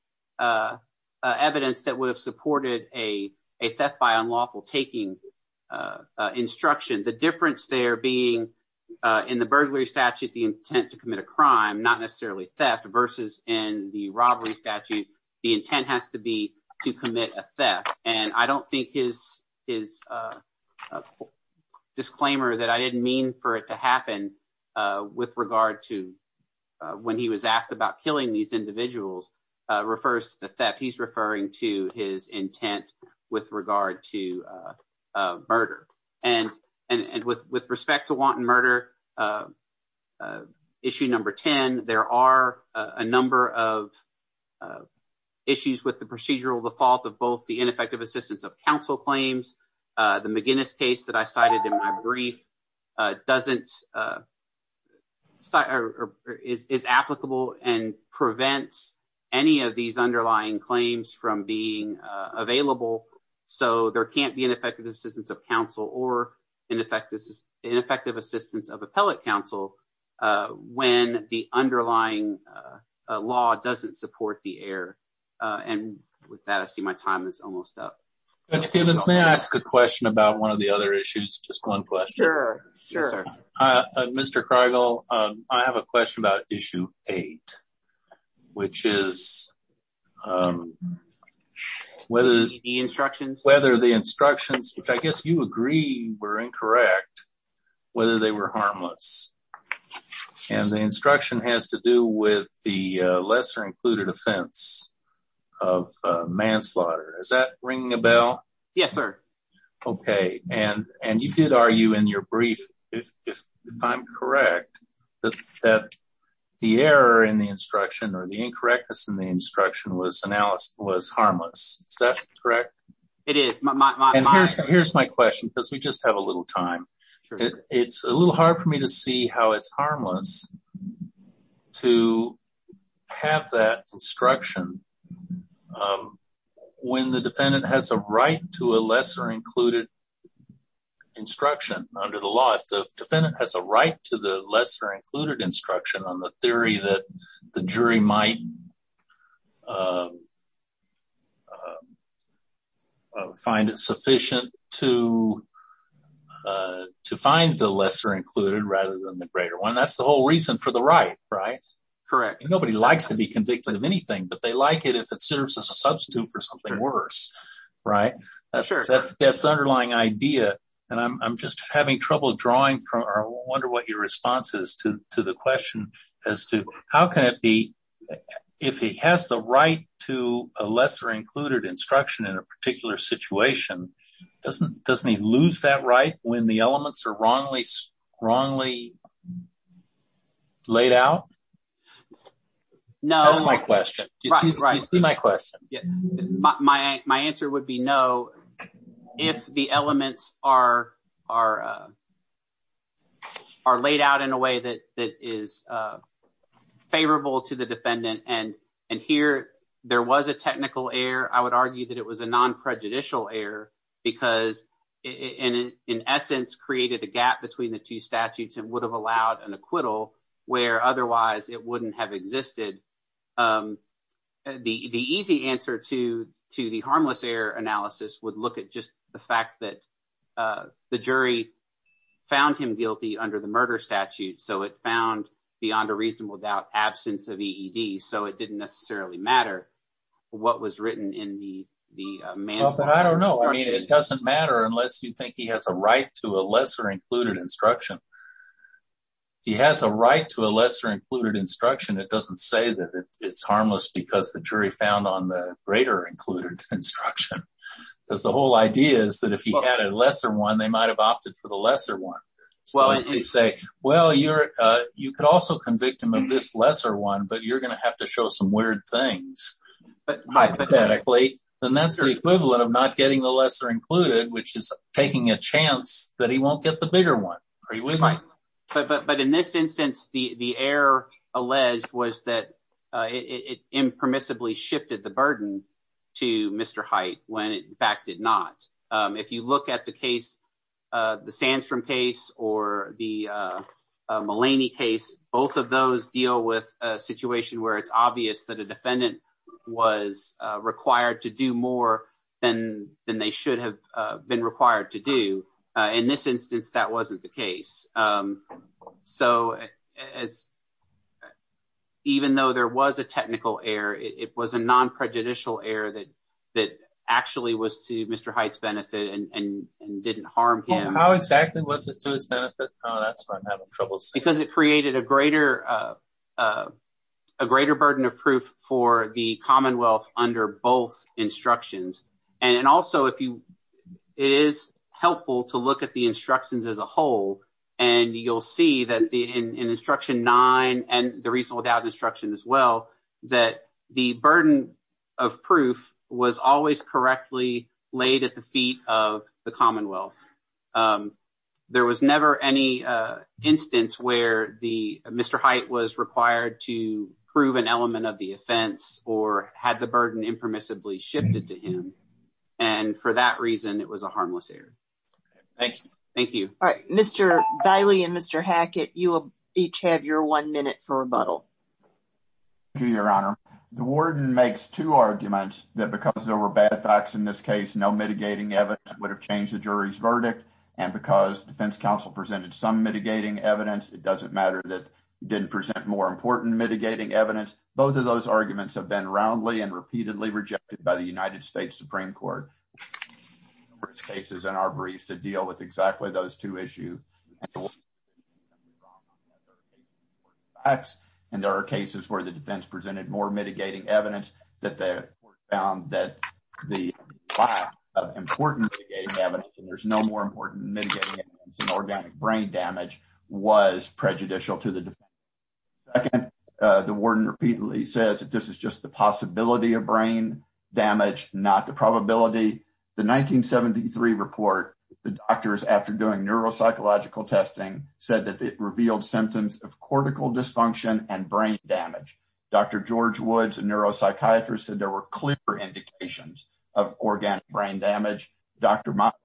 evidence that would have supported a theft by unlawful taking instruction. The difference there being in the burglary statute, the intent to commit a crime, not necessarily theft, versus in the robbery statute, the intent has to be to commit a theft. And I don't think his disclaimer that I didn't mean for it to happen with regard to when he was asked about killing these individuals refers to the theft. He's referring to his intent with regard to murder. And with respect to wanton murder, issue number 10, there are a number of issues with the procedural default of both the ineffective assistance of counsel claims. The McGinnis case that I cited in my brief is applicable and prevents any of these underlying claims from being available. So, there can't be ineffective assistance of counsel or ineffective assistance of appellate counsel when the underlying law doesn't support the error. And with that, I see my time is almost up. Mr. Gibbons, may I ask a question about one of the other issues? Just one question. Sure, sure. Mr. Cargill, I have a question about issue 8, which is whether the instructions, which I guess you agree were incorrect, whether they were harmless. And the instruction has to do with the lesser included offense of manslaughter. Is that ringing a bell? Yes, sir. Okay. And you did argue in your brief, if I'm correct, that the error in the instruction or the incorrectness in the instruction was harmless. Is that correct? It is. And here's my question, because we just have a little time. It's a little hard for me to see how it's harmless to have that instruction when the defendant has a right to a lesser included instruction under the law. If the defendant has a right to the lesser included instruction on the theory that the jury might find it sufficient to find the lesser included rather than the greater one, that's the whole reason for the right, right? Correct. Nobody likes to be convicted of anything, but they like it if it serves as a substitute for something worse, right? Sure. That's the underlying idea. And I'm just having trouble drawing. I wonder what your response is to the question as to how can it be, if he has the right to a lesser included instruction in a particular situation, doesn't he lose that right when the elements are wrongly laid out? No. That's my question. Right. My question. My answer would be no if the elements are laid out in a way that is favorable to the defendant. And here there was a technical error. I would argue that it was a non-prejudicial error because it in essence created a gap between the two statutes and would have allowed an acquittal where otherwise it wouldn't have existed. The easy answer to the harmless error analysis would look at just the fact that the jury found him guilty under the murder statute, so it found beyond a reasonable doubt absence of EED, so it didn't necessarily matter what was written in the manual. I don't know. It doesn't matter unless you think he has a right to a lesser included instruction. He has a right to a lesser included instruction. It doesn't say that it's harmless because the jury found on the greater included instruction. Because the whole idea is that if he had a lesser one, they might have opted for the lesser one. Well, you could also convict him of this lesser one, but you're going to have to show some weird things. Hypothetically, the necessary equivalent of not getting the lesser included, which is taking a chance that he won't get the bigger one. But in this instance, the error alleged was that it impermissibly shifted the burden to Mr. Hite when it in fact did not. If you look at the case, the Sandstrom case or the Mulaney case, both of those deal with a situation where it's obvious that a defendant was required to do more than they should have been required to do. In this instance, that wasn't the case. So as even though there was a technical error, it was a non prejudicial error that that actually was to Mr. Hite's benefit and didn't harm him. How exactly was it to his benefit? Because it created a greater burden of proof for the Commonwealth under both instructions. And also, it is helpful to look at the instructions as a whole, and you'll see that in instruction nine and the reasonable doubt instruction as well, that the burden of proof was always correctly laid at the feet of the Commonwealth. There was never any instance where the Mr. Hite was required to prove an element of the offense, or had the burden impermissibly shifted to him. And for that reason, it was a harmless error. Thank you. Thank you. Mr. and Mr. Hackett, you will each have your one minute for rebuttal. Your Honor, the warden makes two arguments that because there were bad facts in this case, no mitigating evidence would have changed the jury's verdict. And because defense counsel presented some mitigating evidence, it doesn't matter that didn't present more important mitigating evidence. Both of those arguments have been roundly and repeatedly rejected by the United States Supreme Court. There are numerous cases in our briefs that deal with exactly those two issues. And there are cases where the defense presented more mitigating evidence that they found that the lack of important mitigating evidence, and there's no more important mitigating evidence than organic brain damage, was prejudicial to the defense. The warden repeatedly says that this is just the possibility of brain damage, not the probability. The 1973 report, the doctors, after doing neuropsychological testing, said that it revealed symptoms of cortical dysfunction and brain damage. Dr. George Woods, a neuropsychiatrist, said there were clear indications of organic brain damage. Dr. Michael,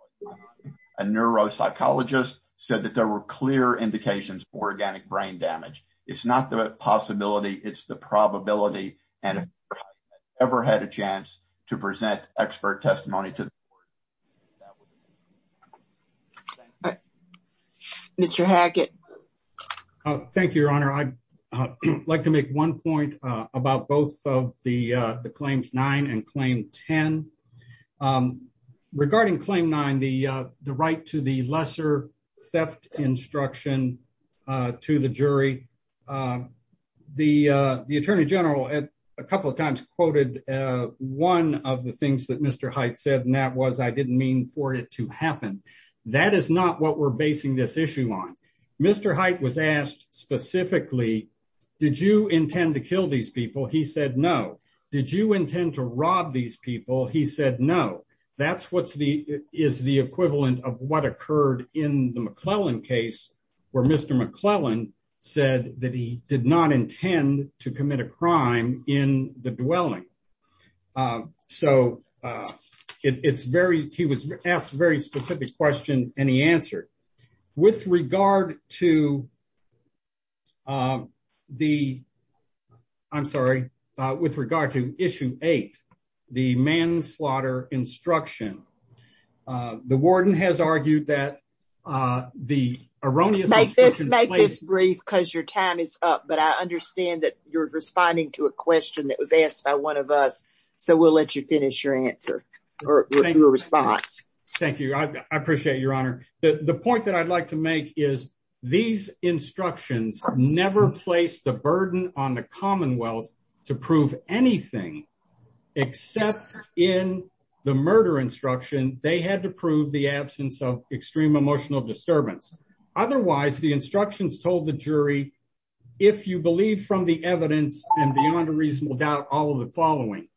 a neuropsychologist, said that there were clear indications of organic brain damage. It's not the possibility, it's the probability. And I've never had a chance to present expert testimony to the court. Mr. Hackett. Thank you, Your Honor. I'd like to make one point about both of the Claims 9 and Claim 10. Regarding Claim 9, the right to the lesser theft instruction to the jury, the Attorney General a couple of times quoted one of the things that Mr. Haidt said, and that was, I didn't mean for it to happen. That is not what we're basing this issue on. Mr. Haidt was asked specifically, did you intend to kill these people? He said no. Did you intend to rob these people? He said no. That's what's the, is the equivalent of what occurred in the McClellan case, where Mr. McClellan said that he did not intend to commit a crime in the dwelling. So, it's very, he was asked a very specific question, and he answered. With regard to the, I'm sorry, with regard to Issue 8, the manslaughter instruction. The warden has argued that the erroneous... Make this brief because your time is up, but I understand that you're responding to a question that was asked by one of us, so we'll let you finish your answer, or your response. Thank you. I appreciate it, Your Honor. The point that I'd like to make is these instructions never placed the burden on the Commonwealth to prove anything, except in the murder instruction, they had to prove the absence of extreme emotional disturbance. Otherwise, the instructions told the jury, if you believe from the evidence and beyond a reasonable doubt, all of the following.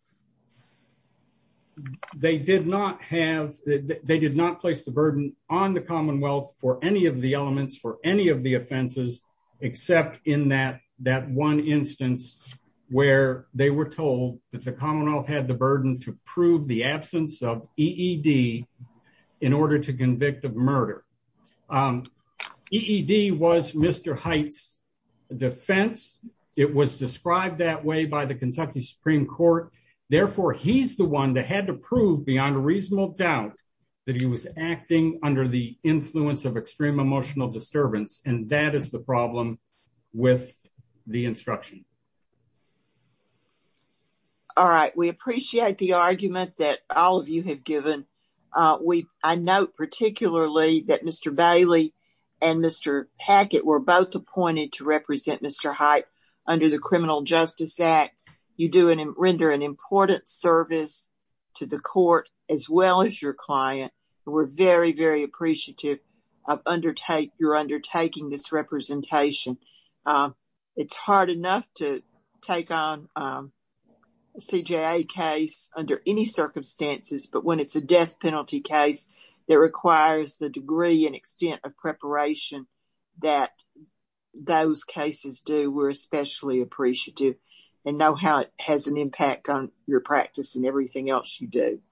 They did not have, they did not place the burden on the Commonwealth for any of the elements, for any of the offenses, except in that one instance where they were told that the Commonwealth had the burden to prove the absence of EED in order to convict of murder. EED was Mr. Height's defense. It was described that way by the Kentucky Supreme Court. Therefore, he's the one that had to prove beyond a reasonable doubt that he was acting under the influence of extreme emotional disturbance, and that is the problem with the instruction. All right. We appreciate the argument that all of you have given. I note particularly that Mr. Bailey and Mr. Packett were both appointed to represent Mr. Height under the Criminal Justice Act. You do render an important service to the court as well as your client. We're very, very appreciative of your undertaking this representation. It's hard enough to take on a CJA case under any circumstances, but when it's a death penalty case, it requires the degree and extent of preparation that those cases do. We're especially appreciative and know how it has an impact on your practice and everything else you do.